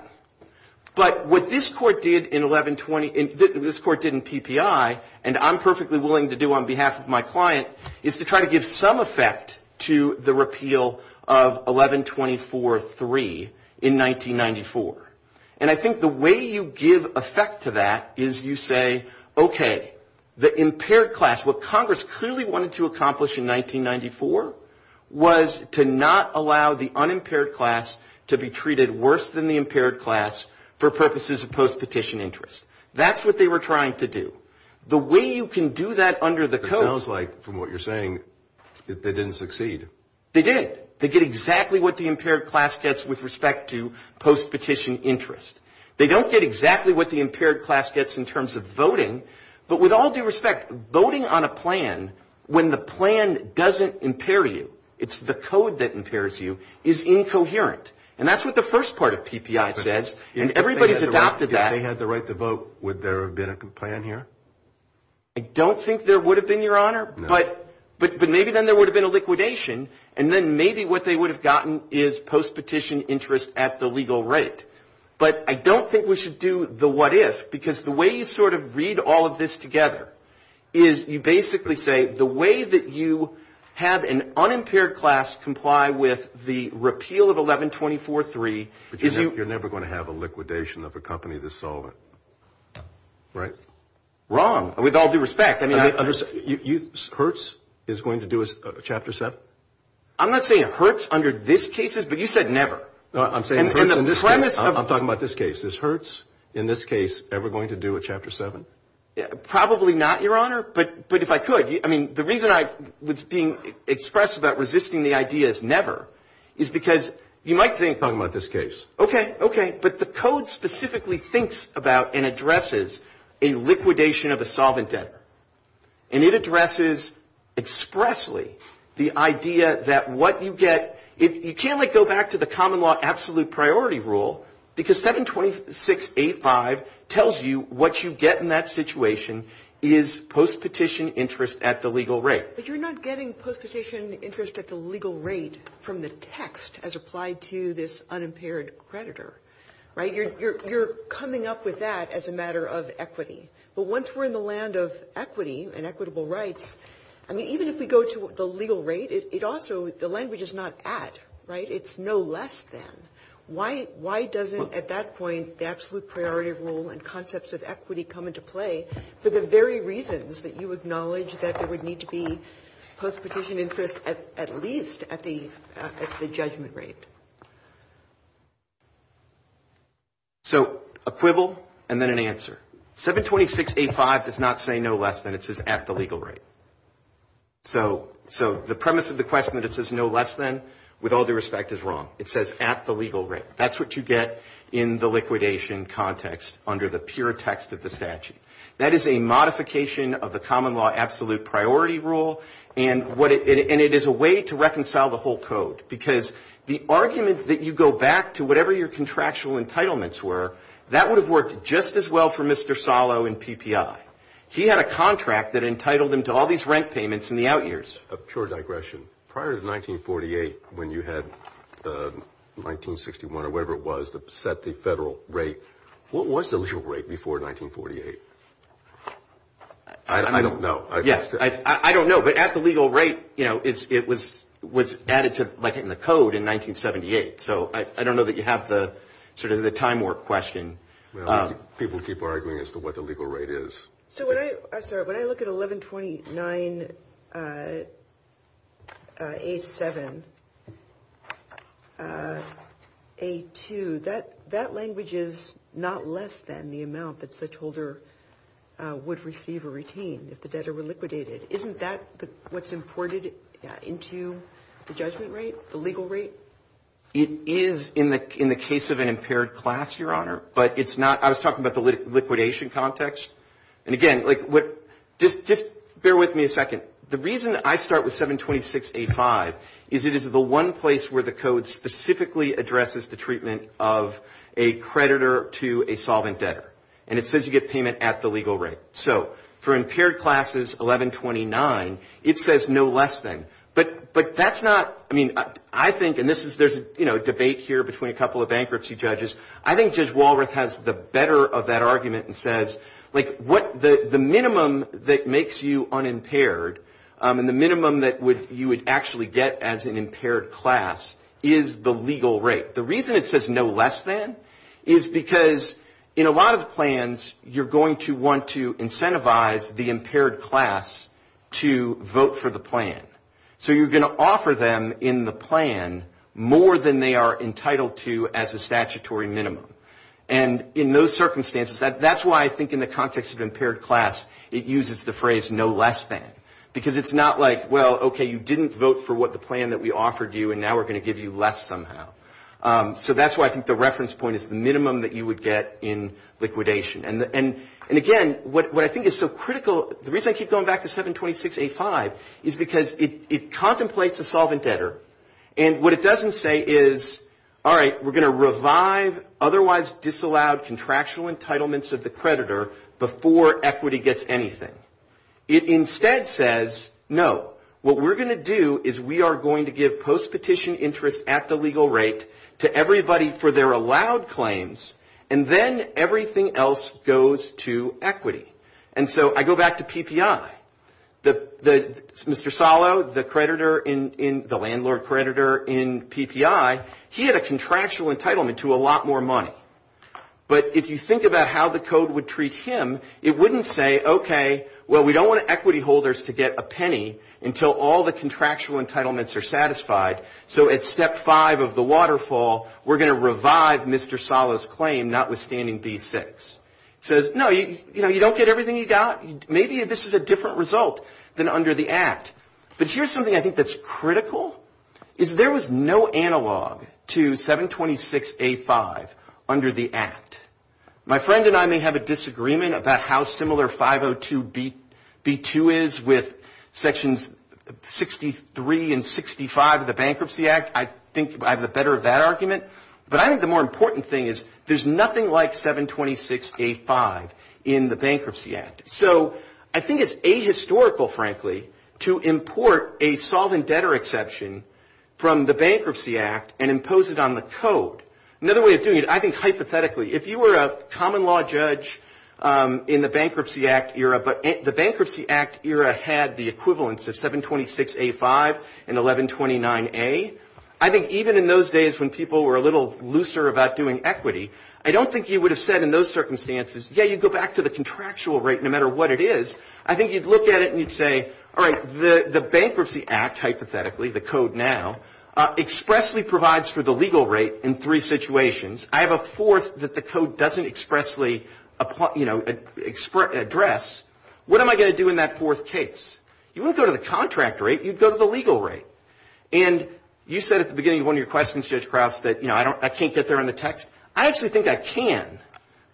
But what this court did in PPI, and I'm perfectly willing to do on behalf of my client, is to try to give some effect to the repeal of 1124.3 in 1994. And I think the way you give effect to that is you say, okay, the impaired class, what Congress clearly wanted to accomplish in 1994 was to not allow the unimpaired class to be treated worse than the impaired class for purposes of post-petition interest. That's what they were trying to do. The way you can do that under the code. It sounds like, from what you're saying, they didn't succeed. They did. They did exactly what the impaired class gets with respect to post-petition interest. They don't get exactly what the impaired class gets in terms of voting, but with all due respect, voting on a plan when the plan doesn't impair you, it's the code that impairs you, is incoherent. And that's what the first part of PPI says, and everybody's adopted that. If they had the right to vote, would there have been a plan here? I don't think there would have been, Your Honor. But maybe then there would have been a liquidation, and then maybe what they would have gotten is post-petition interest at the legal rate. But I don't think we should do the what if, because the way you sort of read all of this together is you basically say, the way that you have an unimpaired class comply with the repeal of 1124.3 is you... You're never going to have a liquidation of a company that's solvent, right? Wrong, with all due respect. Hertz is going to do a Chapter 7? I'm not saying Hertz under this case, but you said never. I'm talking about this case. Is Hertz in this case ever going to do a Chapter 7? Probably not, Your Honor, but if I could. I mean, the reason I was being expressive about resisting the idea is never is because you might think... I'm talking about this case. Okay, okay, but the code specifically thinks about and addresses a liquidation of a solvent debtor. And it addresses expressly the idea that what you get... You can't go back to the common law absolute priority rule, because 726.85 tells you what you get in that situation is post-petition interest at the legal rate. But you're not getting post-petition interest at the legal rate from the text as applied to this unimpaired creditor, right? You're coming up with that as a matter of equity. But once we're in the land of equity and equitable rights, I mean, even if we go to the legal rate, it also... The language is not at, right? It's no less than. Why doesn't, at that point, the absolute priority rule and concepts of equity come into play for the very reasons that you acknowledge that there would need to be post-petition interest at least at the judgment rate? So, equivalent and then an answer. 726.85 does not say no less than. It says at the legal rate. So, the premise of the question that it says no less than, with all due respect, is wrong. It says at the legal rate. That's what you get in the liquidation context under the pure text of the statute. That is a modification of the common law absolute priority rule, and it is a way to reconcile the whole code, because the argument that you go back to whatever your contractual entitlements were, that would have worked just as well for Mr. Salo in PPI. He had a contract that entitled him to all these rent payments in the out years. A pure digression. Prior to 1948, when you had 1961 or whatever it was that set the federal rate, what was the legal rate before 1948? I don't know. Yes. I don't know, but at the legal rate, it was added to the code in 1978. So, I don't know that you have sort of the time work question. People keep arguing as to what the legal rate is. So, when I look at 1129A7A2, that language is not less than the amount that such holder would receive or retain if the debtor were liquidated. Isn't that what's imported into the judgment rate, the legal rate? It is in the case of an impaired class, Your Honor. I was talking about the liquidation context. And again, just bear with me a second. The reason I start with 726A5 is it is the one place where the code specifically addresses the treatment of a creditor to a solvent debtor. And it says you get payment at the legal rate. So, for impaired classes 1129, it says no less than. But that's not, I mean, I think, and there's a debate here between a couple of bankruptcy judges. I think Judge Walroth has the better of that argument and says, like, the minimum that makes you unimpaired and the minimum that you would actually get as an impaired class is the legal rate. The reason it says no less than is because in a lot of plans, you're going to want to incentivize the impaired class to vote for the plan. So, you're going to offer them in the plan more than they are entitled to as a statutory minimum. And in those circumstances, that's why I think in the context of impaired class, it uses the phrase no less than. Because it's not like, well, okay, you didn't vote for what the plan that we offered you and now we're going to give you less somehow. So, that's why I think the reference point is the minimum that you would get in liquidation. And, again, what I think is so critical, the reason I keep going back to 726.85, is because it contemplates a solvent debtor. And what it doesn't say is, all right, we're going to revive otherwise disallowed contractual entitlements of the creditor before equity gets anything. It instead says, no. What we're going to do is we are going to give post-petition interest at the legal rate to everybody for their allowed claims, and then everything else goes to equity. And so, I go back to PPI. Mr. Salo, the landlord creditor in PPI, he had a contractual entitlement to a lot more money. But if you think about how the code would treat him, it wouldn't say, okay, well, we don't want equity holders to get a penny until all the contractual entitlements are satisfied. So, at step five of the waterfall, we're going to revive Mr. Salo's claim, notwithstanding B6. It says, no, you don't get everything you got. Maybe this is a different result than under the Act. But here's something I think that's critical. If there was no analog to 726A5 under the Act, my friend and I may have a disagreement about how similar 502B2 is with Sections 63 and 65 of the Bankruptcy Act. I think I have a better of that argument. But I think the more important thing is there's nothing like 726A5 in the Bankruptcy Act. So, I think it's ahistorical, frankly, to import a solvent debtor exception from the Bankruptcy Act and impose it on the code. Another way of doing it, I think hypothetically, if you were a common law judge in the Bankruptcy Act era, but the Bankruptcy Act era had the equivalence of 726A5 and 1129A, I think even in those days when people were a little looser about doing equity, I don't think you would have said in those circumstances, yeah, you go back to the contractual rate no matter what it is. I think you'd look at it and you'd say, all right, the Bankruptcy Act, hypothetically, the code now, expressly provides for the legal rate in three situations. I have a fourth that the code doesn't expressly address. What am I going to do in that fourth case? You wouldn't go to the contract rate, you'd go to the legal rate. And you said at the beginning of one of your questions, Judge Cross, that, you know, I can't get there on the text. I actually think I can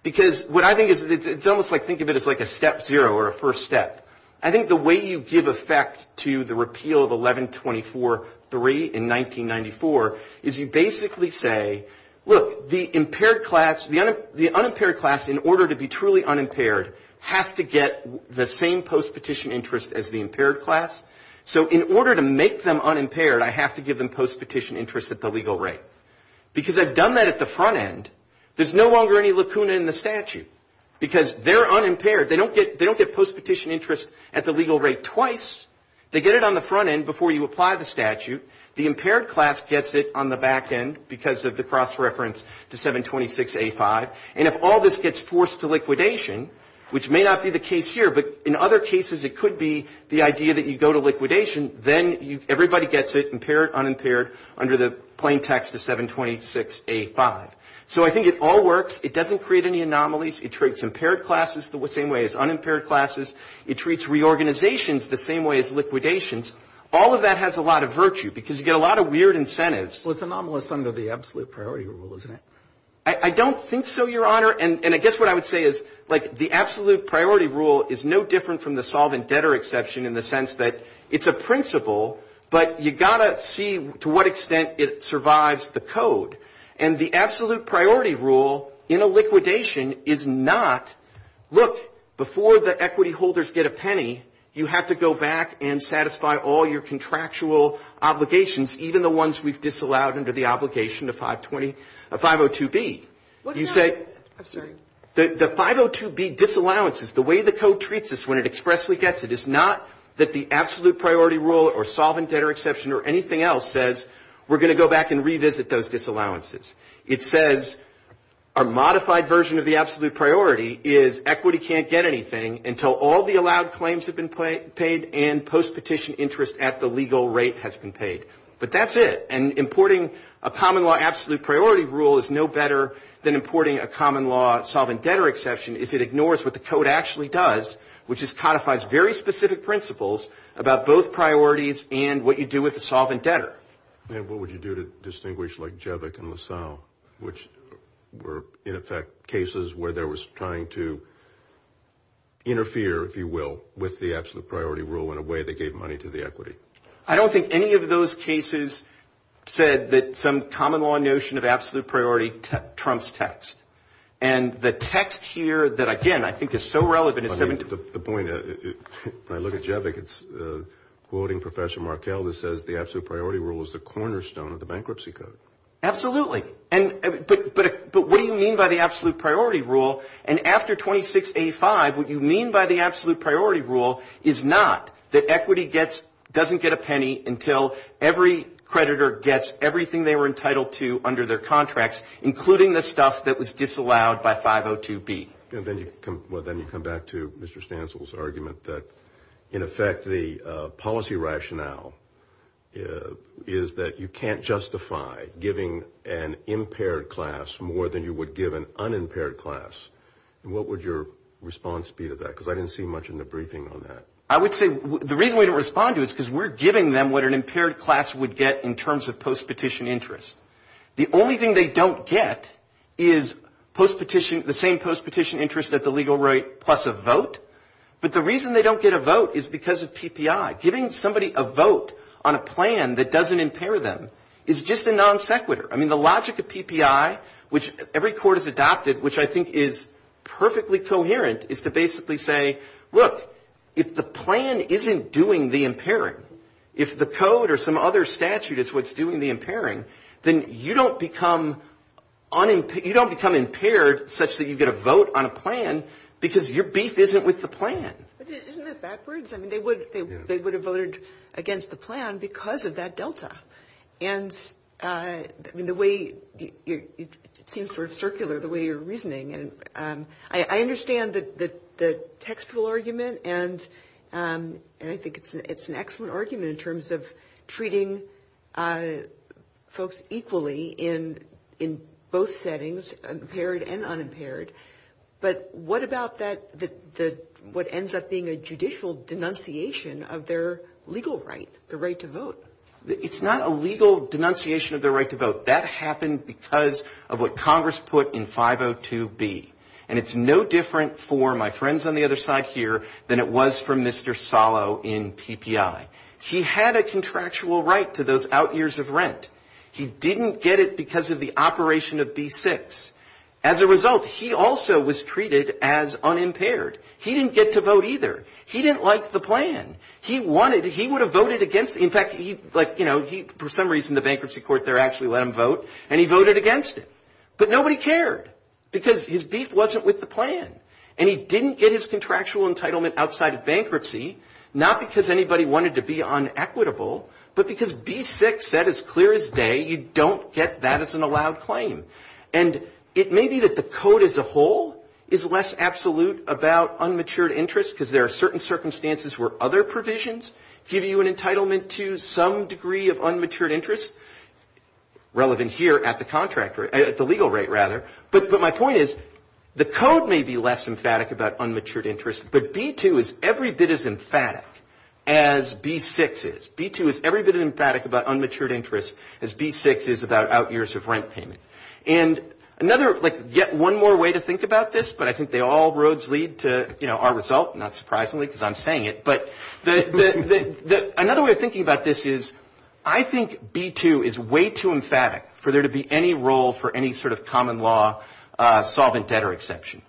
because what I think is it's almost like think of it as like a step zero or a first step. I think the way you give effect to the repeal of 1124.3 in 1994 is you basically say, look, the impaired class, the unimpaired class, in order to be truly unimpaired, have to get the same post-petition interest as the impaired class. So in order to make them unimpaired, I have to give them post-petition interest at the legal rate. Because I've done that at the front end, there's no longer any lacuna in the statute because they're unimpaired. They don't get post-petition interest at the legal rate twice. They get it on the front end before you apply the statute. The impaired class gets it on the back end because of the cross-reference to 726A5. And if all this gets forced to liquidation, which may not be the case here, but in other cases it could be the idea that you go to liquidation, then everybody gets it, impaired, unimpaired, under the plain text of 726A5. So I think it all works. It doesn't create any anomalies. It treats impaired classes the same way as unimpaired classes. It treats reorganizations the same way as liquidations. All of that has a lot of virtue because you get a lot of weird incentives. Well, it's anomalous under the absolute priority rule, isn't it? I don't think so, Your Honor. Your Honor, and I guess what I would say is, like, the absolute priority rule is no different from the solvent debtor exception in the sense that it's a principle, but you've got to see to what extent it survives the code. And the absolute priority rule in a liquidation is not, look, before the equity holders get a penny, you have to go back and satisfy all your contractual obligations, even the ones we've disallowed under the obligation of 502B. What is that? I'm sorry. The 502B disallowances, the way the code treats this when it expressly gets it, is not that the absolute priority rule or solvent debtor exception or anything else says, we're going to go back and revisit those disallowances. It says our modified version of the absolute priority is equity can't get anything until all the allowed claims have been paid and post-petition interest at the legal rate has been paid. But that's it. And importing a common law absolute priority rule is no better than importing a common law solvent debtor exception if it ignores what the code actually does, which is codifies very specific principles about both priorities and what you do with the solvent debtor. And what would you do to distinguish, like, Jevick and LaSalle, which were, in effect, cases where there was trying to interfere, if you will, with the absolute priority rule in a way that gave money to the equity? I don't think any of those cases said that some common law notion of absolute priority trumps text. And the text here that, again, I think is so relevant... The point, if I look at Jevick, it's quoting Professor Markell that says, the absolute priority rule is the cornerstone of the bankruptcy code. Absolutely. But what do you mean by the absolute priority rule? And after 2685, what you mean by the absolute priority rule is not that equity doesn't get a penny until every creditor gets everything they were entitled to under their contracts, including the stuff that was disallowed by 502B. Well, then you come back to Mr. Stancil's argument that, in effect, the policy rationale is that you can't justify giving an impaired class more than you would give an unimpaired class. What would your response be to that? Because I didn't see much in the briefing on that. I would say the reason we don't respond to it is because we're giving them what an impaired class would get in terms of post-petition interest. The only thing they don't get is the same post-petition interest at the legal rate plus a vote. But the reason they don't get a vote is because of PPI. Giving somebody a vote on a plan that doesn't impair them is just a non sequitur. I mean, the logic of PPI, which every court has adopted, which I think is perfectly coherent, is to basically say, look, if the plan isn't doing the impairing, if the code or some other statute is what's doing the impairing, then you don't become impaired such that you get a vote on a plan because your beef isn't with the plan. Isn't that backwards? I mean, they would have voted against the plan because of that delta. And the way it seems sort of circular, the way you're reasoning. I understand the textual argument, and I think it's an excellent argument in terms of treating folks equally in both settings, impaired and unimpaired. But what about what ends up being a judicial denunciation of their legal right, the right to vote? It's not a legal denunciation of the right to vote. That happened because of what Congress put in 502B. And it's no different for my friends on the other side here than it was for Mr. Salo in PPI. He had a contractual right to those out years of rent. He didn't get it because of the operation of D6. As a result, he also was treated as unimpaired. He didn't get to vote either. He didn't like the plan. He would have voted against it. In fact, for some reason, the bankruptcy court there actually let him vote, and he voted against it. But nobody cared because his beef wasn't with the plan, and he didn't get his contractual entitlement outside of bankruptcy, not because anybody wanted to be unequitable, but because D6 said as clear as day, you don't get that as an allowed claim. And it may be that the code as a whole is less absolute about unmatured interest because there are certain circumstances where other provisions give you an entitlement to some degree of unmatured interest, relevant here at the legal rate. But my point is the code may be less emphatic about unmatured interest, but B2 is every bit as emphatic as B6 is. B2 is every bit as emphatic about unmatured interest as B6 is about out years of rent payment. And yet one more way to think about this, but I think they all roads lead to our result, not surprisingly because I'm saying it. But another way of thinking about this is I think B2 is way too emphatic for there to be any role for any sort of common law solvent debtor exception.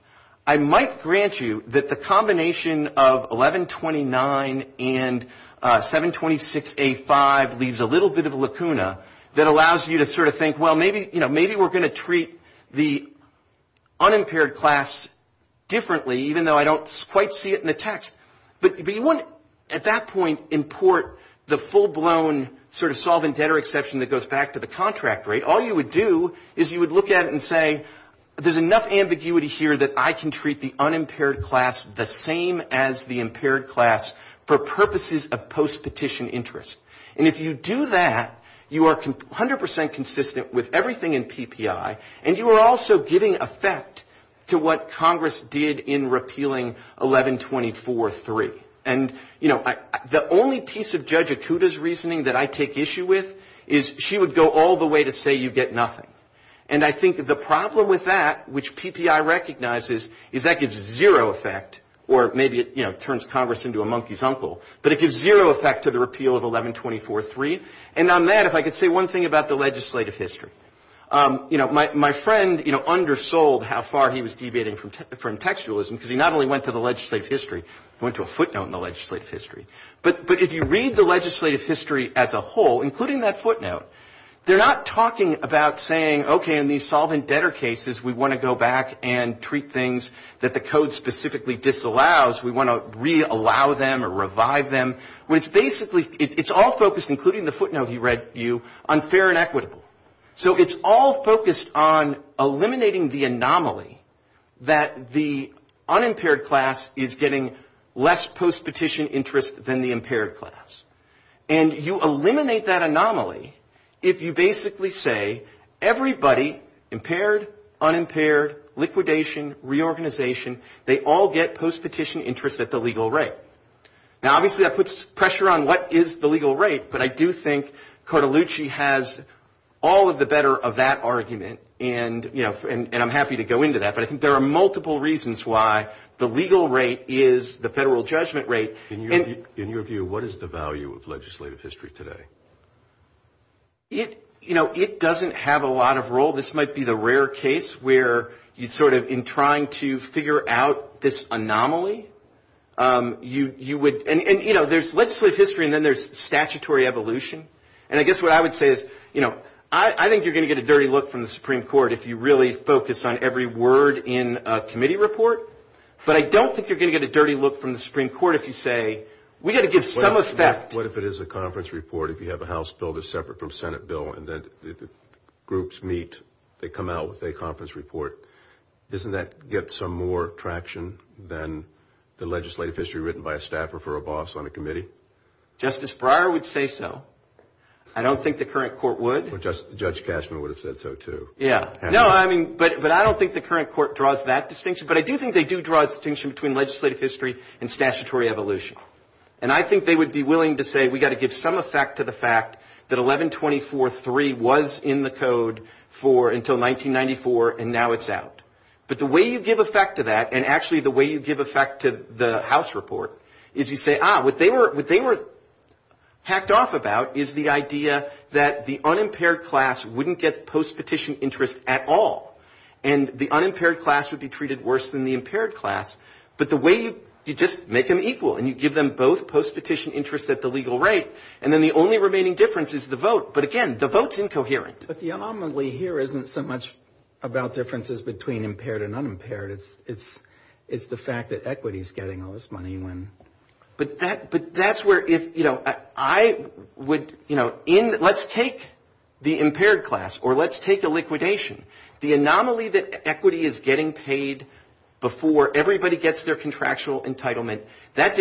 I might grant you that the combination of 1129 and 726A5 leaves a little bit of a lacuna that allows you to sort of think, well, maybe we're going to treat the unimpaired class differently, even though I don't quite see it in the text. But you wouldn't at that point import the full-blown sort of solvent debtor exception that goes back to the contract rate. But all you would do is you would look at it and say, there's enough ambiguity here that I can treat the unimpaired class the same as the impaired class for purposes of post-petition interest. And if you do that, you are 100% consistent with everything in PPI, and you are also giving effect to what Congress did in repealing 1124.3. The only piece of Judge Etuda's reasoning that I take issue with is she would go all the way to say you get nothing. And I think the problem with that, which PPI recognizes, is that gives zero effect, or maybe it turns Congress into a monkey's uncle, but it gives zero effect to the repeal of 1124.3. And on that, if I could say one thing about the legislative history. My friend undersold how far he was deviating from textualism because he not only went to the legislative history, he went to a footnote in the legislative history. But if you read the legislative history as a whole, including that footnote, they're not talking about saying, okay, in these solvent debtor cases, we want to go back and treat things that the code specifically disallows. We want to re-allow them or revive them. It's all focused, including the footnote you read, on fair and equitable. So it's all focused on eliminating the anomaly that the unimpaired class is getting less post-petition interest than the impaired class. And you eliminate that anomaly if you basically say everybody, impaired, unimpaired, liquidation, reorganization, they all get post-petition interest at the legal rate. Now, obviously that puts pressure on what is the legal rate, but I do think Cotellucci has all of the better of that argument, and I'm happy to go into that. But I think there are multiple reasons why the legal rate is the federal judgment rate. In your view, what is the value of legislative history today? You know, it doesn't have a lot of role. This might be the rare case where you sort of, in trying to figure out this anomaly, you would, and, you know, there's legislative history and then there's statutory evolution. And I guess what I would say is, you know, I think you're going to get a dirty look from the Supreme Court if you really focus on every word in a committee report, but I don't think you're going to get a dirty look from the Supreme Court if you say we've got to give some respect. What if it is a conference report, if you have a House bill that's separate from a Senate bill, and then groups meet, they come out with a conference report, doesn't that get some more traction than the legislative history written by a staffer for a boss on a committee? Justice Breyer would say so. I don't think the current court would. Judge Cashman would have said so, too. Yeah. No, I mean, but I don't think the current court draws that distinction, but I do think they do draw a distinction between legislative history and statutory evolution. And I think they would be willing to say we've got to give some effect to the fact that 1124.3 was in the code for until 1994, and now it's out. But the way you give effect to that, and actually the way you give effect to the House report, is you say, ah, what they were hacked off about is the idea that the unimpaired class wouldn't get post-petition interest at all, and the unimpaired class would be treated worse than the impaired class. But the way you just make them equal, and you give them both post-petition interest at the legal rate, and then the only remaining difference is the vote. But again, the vote's incoherent. But the anomaly here isn't so much about differences between impaired and unimpaired. It's the fact that equity is getting all this money when. But that's where if, you know, I would, you know, let's take the impaired class, or let's take a liquidation. The anomaly that equity is getting paid before everybody gets their contractual entitlement, that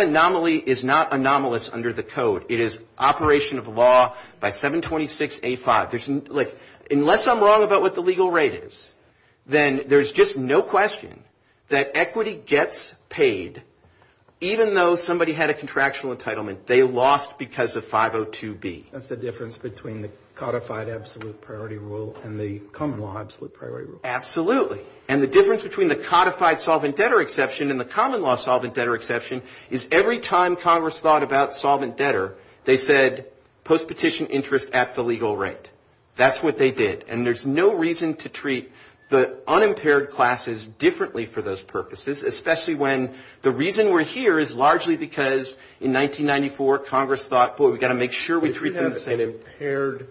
anomaly is not anomalous under the code. It is operation of law by 726A5. Like, unless I'm wrong about what the legal rate is, then there's just no question that equity gets paid even though somebody had a contractual entitlement. They lost because of 502B. That's the difference between the codified absolute priority rule and the common law absolute priority rule. Absolutely. And the difference between the codified solvent debtor exception and the common law solvent debtor exception is every time Congress thought about solvent debtor, they said post-petition interest at the legal rate. That's what they did. And there's no reason to treat the unimpaired classes differently for those purposes, especially when the reason we're here is largely because in 1994 Congress thought, If you have an impaired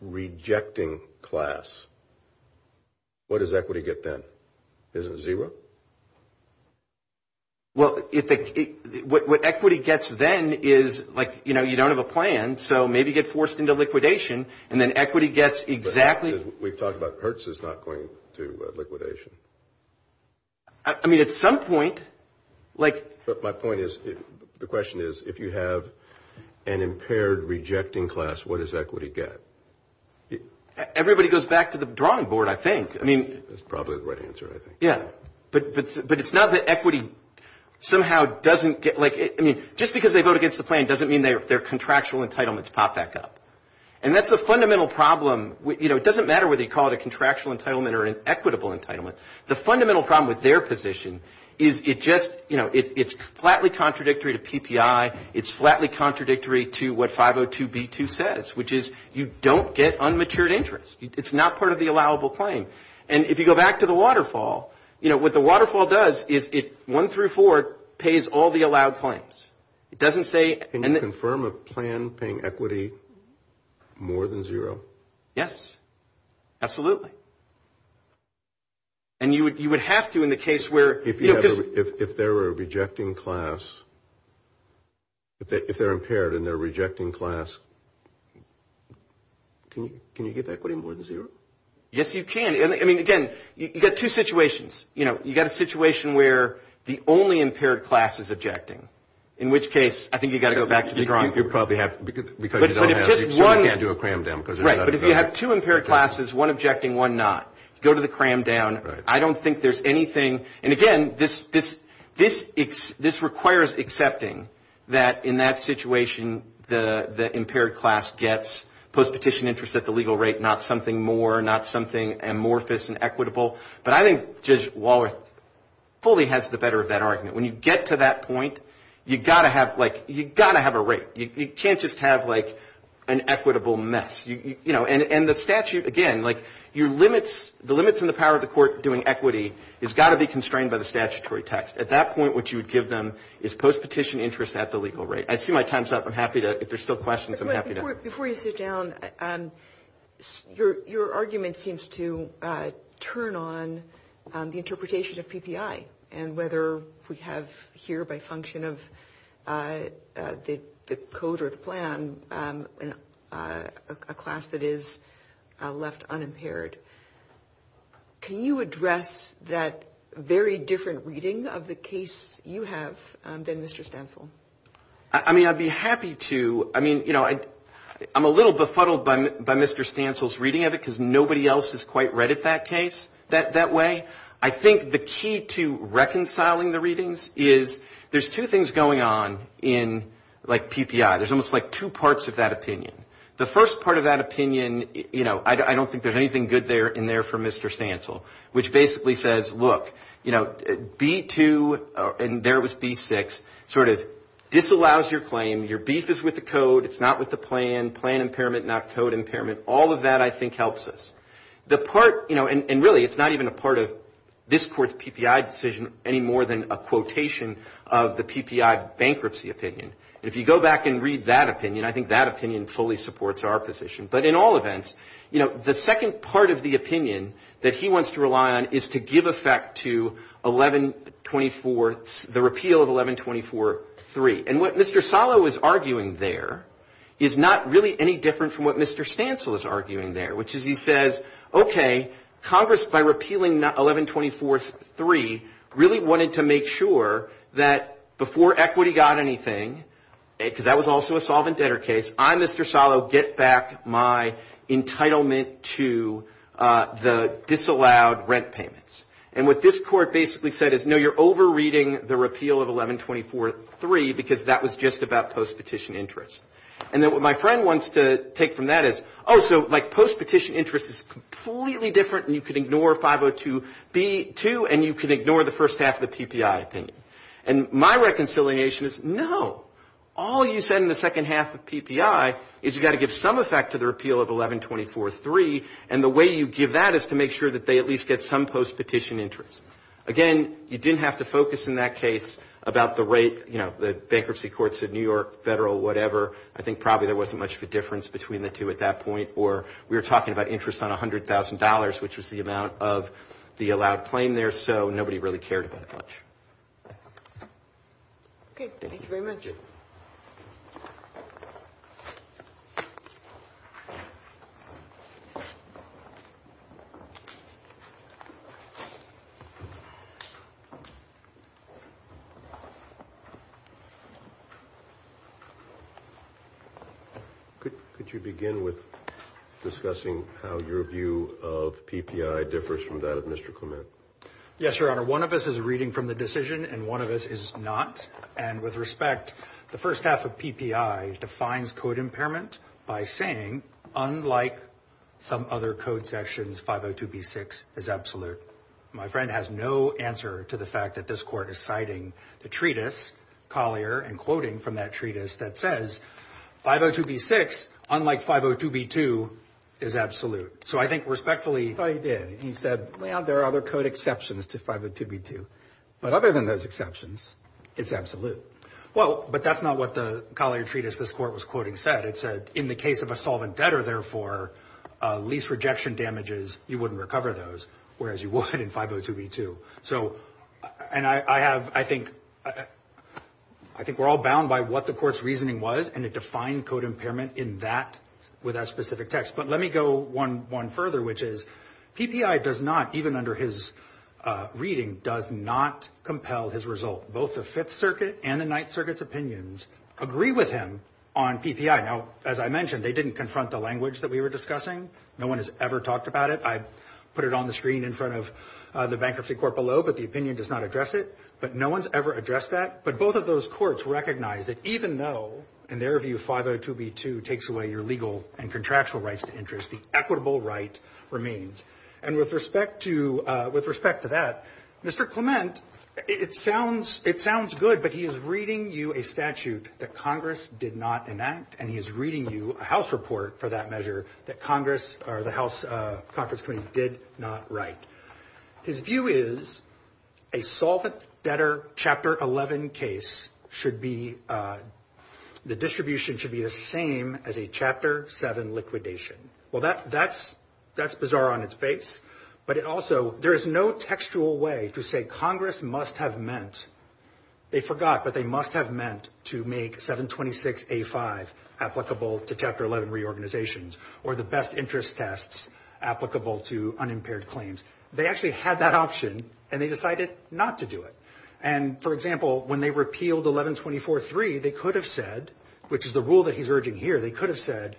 rejecting class, what does equity get then? Is it zero? Well, what equity gets then is, like, you know, you don't have a plan, so maybe you get forced into liquidation, and then equity gets exactly. We've talked about Hertz is not going to liquidation. I mean, at some point, like. But my point is, the question is, if you have an impaired rejecting class, what does equity get? Everybody goes back to the drawing board, I think. I mean. That's probably the right answer, I think. Yeah. But it's not that equity somehow doesn't get, like, I mean, just because they vote against the plan doesn't mean their contractual entitlements pop back up. And that's a fundamental problem. You know, it doesn't matter whether you call it a contractual entitlement or an equitable entitlement. The fundamental problem with their position is it just, you know, it's flatly contradictory to PPI. It's flatly contradictory to what 502B2 says, which is you don't get unmatured interest. It's not part of the allowable claim. And if you go back to the waterfall, you know, what the waterfall does is it, one through four, pays all the allowed claims. It doesn't say. Can you confirm a plan paying equity more than zero? Yes. Yes. Absolutely. And you would have to in the case where. If there were a rejecting class, if they're impaired and they're rejecting class, can you get that equity more than zero? Yes, you can. I mean, again, you've got two situations. You know, you've got a situation where the only impaired class is objecting, in which case I think you've got to go back to the drawing board. You probably have, because you don't have, you can't do a cram down. Right, but if you have two impaired classes, one objecting, one not, go to the cram down. I don't think there's anything. And, again, this requires accepting that in that situation the impaired class gets post-petition interest at the legal rate, not something more, not something amorphous and equitable. But I think just Waller fully has the better of that argument. When you get to that point, you've got to have, like, you've got to have a rate. You can't just have, like, an equitable mess. You know, and the statute, again, like, your limits, the limits on the power of the court doing equity has got to be constrained by the statutory text. At that point, what you would give them is post-petition interest at the legal rate. I see my time's up. I'm happy to, if there's still questions, I'm happy to. Before you sit down, your argument seems to turn on the interpretation of PPI and whether we have here by function of the code or the plan a class that is left unimpaired. Can you address that very different reading of the case you have than Mr. Stansel? I mean, I'd be happy to. I mean, you know, I'm a little befuddled by Mr. Stansel's reading of it because nobody else has quite read it that way. I think the key to reconciling the readings is there's two things going on in, like, PPI. There's almost, like, two parts of that opinion. The first part of that opinion, you know, I don't think there's anything good in there for Mr. Stansel, which basically says, look, you know, B2, and there was B6, sort of disallows your claim. Your beef is with the code. It's not with the plan. Plan impairment, not code impairment. All of that, I think, helps us. The part, you know, and really it's not even a part of this court's PPI decision any more than a quotation of the PPI bankruptcy opinion. If you go back and read that opinion, I think that opinion fully supports our position. But in all events, you know, the second part of the opinion that he wants to rely on is to give effect to 1124, the repeal of 1124-3. And what Mr. Salo is arguing there is not really any different from what Mr. Stansel is arguing there, which is he says, okay, Congress, by repealing 1124-3, really wanted to make sure that before equity got anything, because that was also a solvent debtor case, I, Mr. Salo, get back my entitlement to the disallowed rent payments. And what this court basically said is, no, you're over-reading the repeal of 1124-3 because that was just about post-petition interest. And then what my friend wants to take from that is, oh, so like post-petition interest is completely different and you can ignore 502-B2 and you can ignore the first half of the PPI opinion. And my reconciliation is, no, all you said in the second half of PPI is you've got to give some effect to the repeal of 1124-3, and the way you give that is to make sure that they at least get some post-petition interest. Again, you didn't have to focus in that case about the rate, you know, the bankruptcy courts in New York, federal, whatever. I think probably there wasn't much of a difference between the two at that point, or we were talking about interest on $100,000, which is the amount of the allowed claim there, so nobody really cared about it much. Okay, thank you very much. Thank you. Could you begin with discussing how your view of PPI differs from that of Mr. Clement? Yes, Your Honor, one of us is reading from the decision and one of us is not. And with respect, the first half of PPI defines code impairment by saying, unlike some other code sections, 502-B6 is absolute. My friend has no answer to the fact that this court is citing the treatise, Collier, and quoting from that treatise that says 502-B6, unlike 502-B2, is absolute. So I think respectfully, he said, well, there are other code exceptions to 502-B2. But other than those exceptions, it's absolute. Well, but that's not what the Collier treatise this court was quoting said. It said, in the case of a solvent debtor, therefore, lease rejection damages, you wouldn't recover those, whereas you would in 502-B2. So, and I have, I think, I think we're all bound by what the court's reasoning was, and it defined code impairment in that, with that specific text. But let me go one further, which is PPI does not, even under his reading, does not compel his result. Both the Fifth Circuit and the Ninth Circuit's opinions agree with him on PPI. Now, as I mentioned, they didn't confront the language that we were discussing. No one has ever talked about it. I put it on the screen in front of the Bankruptcy Court below, but the opinion does not address it. But no one's ever addressed that. But both of those courts recognize that even though, in their view, 502-B2 takes away your legal and contractual rights to interest, the equitable right remains. And with respect to, with respect to that, Mr. Clement, it sounds, it sounds good, but he is reading you a statute that Congress did not enact, and he is reading you a House report for that measure that Congress, or the House, Congress did not write. His view is a solvent debtor Chapter 11 case should be, the distribution should be the same as a Chapter 7 liquidation. Well, that's bizarre on its base, but it also, there is no textual way to say Congress must have meant, they forgot, but they must have meant to make 726A5 applicable to Chapter 11 reorganizations, or the best interest tests applicable to unimpaired claims. They actually had that option, and they decided not to do it. And, for example, when they repealed 1124.3, they could have said, which is the rule that he's urging here, they could have said,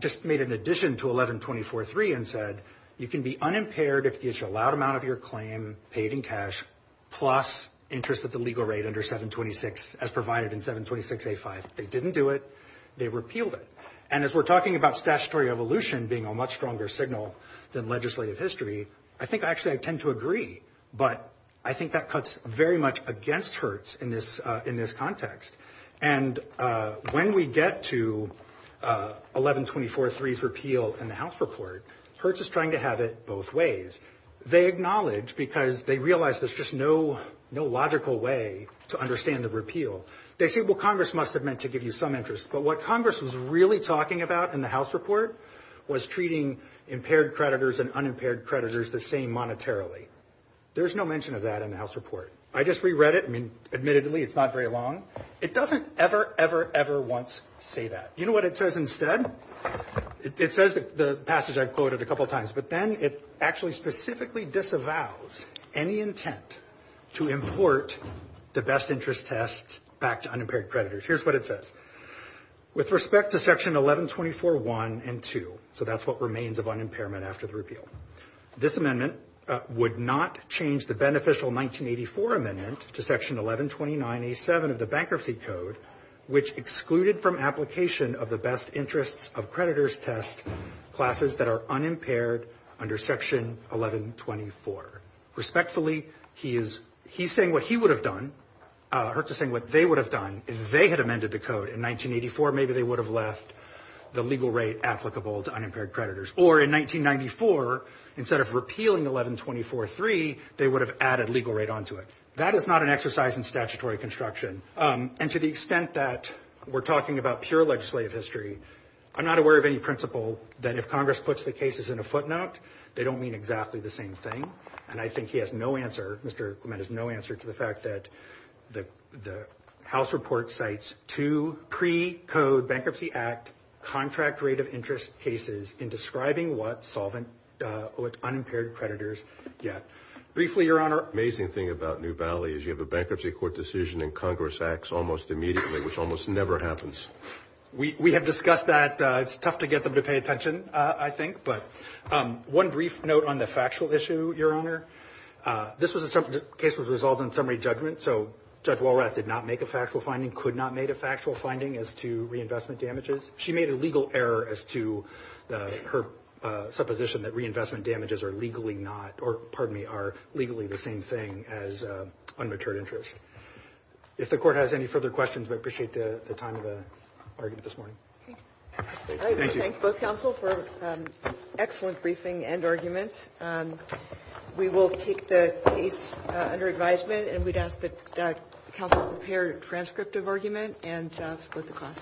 just made an addition to 1124.3 and said, you can be unimpaired if you issue a loud amount of your claim paid in cash plus interest at the legal rate under 726, as provided in 726A5. They didn't do it. They repealed it. And as we're talking about statutory evolution being a much stronger signal than legislative history, I think actually I tend to agree, but I think that cuts very much against Hertz in this context. And when we get to 1124.3's repeal in the House report, Hertz is trying to have it both ways. They acknowledge because they realize there's just no logical way to understand the repeal. They say, well, Congress must have meant to give you some interest. But what Congress was really talking about in the House report was treating impaired creditors and unimpaired creditors the same monetarily. There's no mention of that in the House report. I just reread it. I mean, admittedly, it's not very long. It doesn't ever, ever, ever once say that. You know what it says instead? It says the passage I've quoted a couple times, but then it actually specifically disavows any intent to import the best interest test back to unimpaired creditors. Here's what it says. With respect to Section 1124.1 and 2, so that's what remains of unimpairment after repeal, this amendment would not change the beneficial 1984 amendment to Section 1129.87 of the Bankruptcy Code, which excluded from application of the best interest of creditors test classes that are unimpaired under Section 1124. Respectfully, he's saying what he would have done. He's saying what they would have done if they had amended the code in 1984, maybe they would have left the legal rate applicable to unimpaired creditors. Or in 1994, instead of repealing 1124.3, they would have added legal rate onto it. That is not an exercise in statutory construction. And to the extent that we're talking about pure legislative history, I'm not aware of any principle that if Congress puts the cases in a footnote, they don't mean exactly the same thing. And I think he has no answer, Mr. Clement has no answer to the fact that the House report cites two pre-code Bankruptcy Act contract rate of interest cases in describing what unimpaired creditors get. Briefly, Your Honor. The amazing thing about New Valley is you have a Bankruptcy Court decision in Congress acts almost immediately, which almost never happens. We have discussed that. It's tough to get them to pay attention, I think. One brief note on the factual issue, Your Honor. This case was resolved in summary judgment, so Judge Walrat did not make a factual finding, could not make a factual finding as to reinvestment damages. She made a legal error as to her supposition that reinvestment damages are legally not, or pardon me, are legally the same thing as unmatured interest. If the Court has any further questions, we appreciate the time of the argument this morning. I would thank both counsel for an excellent briefing and argument. We will keep the case under advisement, and we'd ask that counsel prepare a transcript of argument and jobs for the class.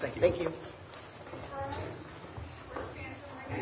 Thank you. Thank you.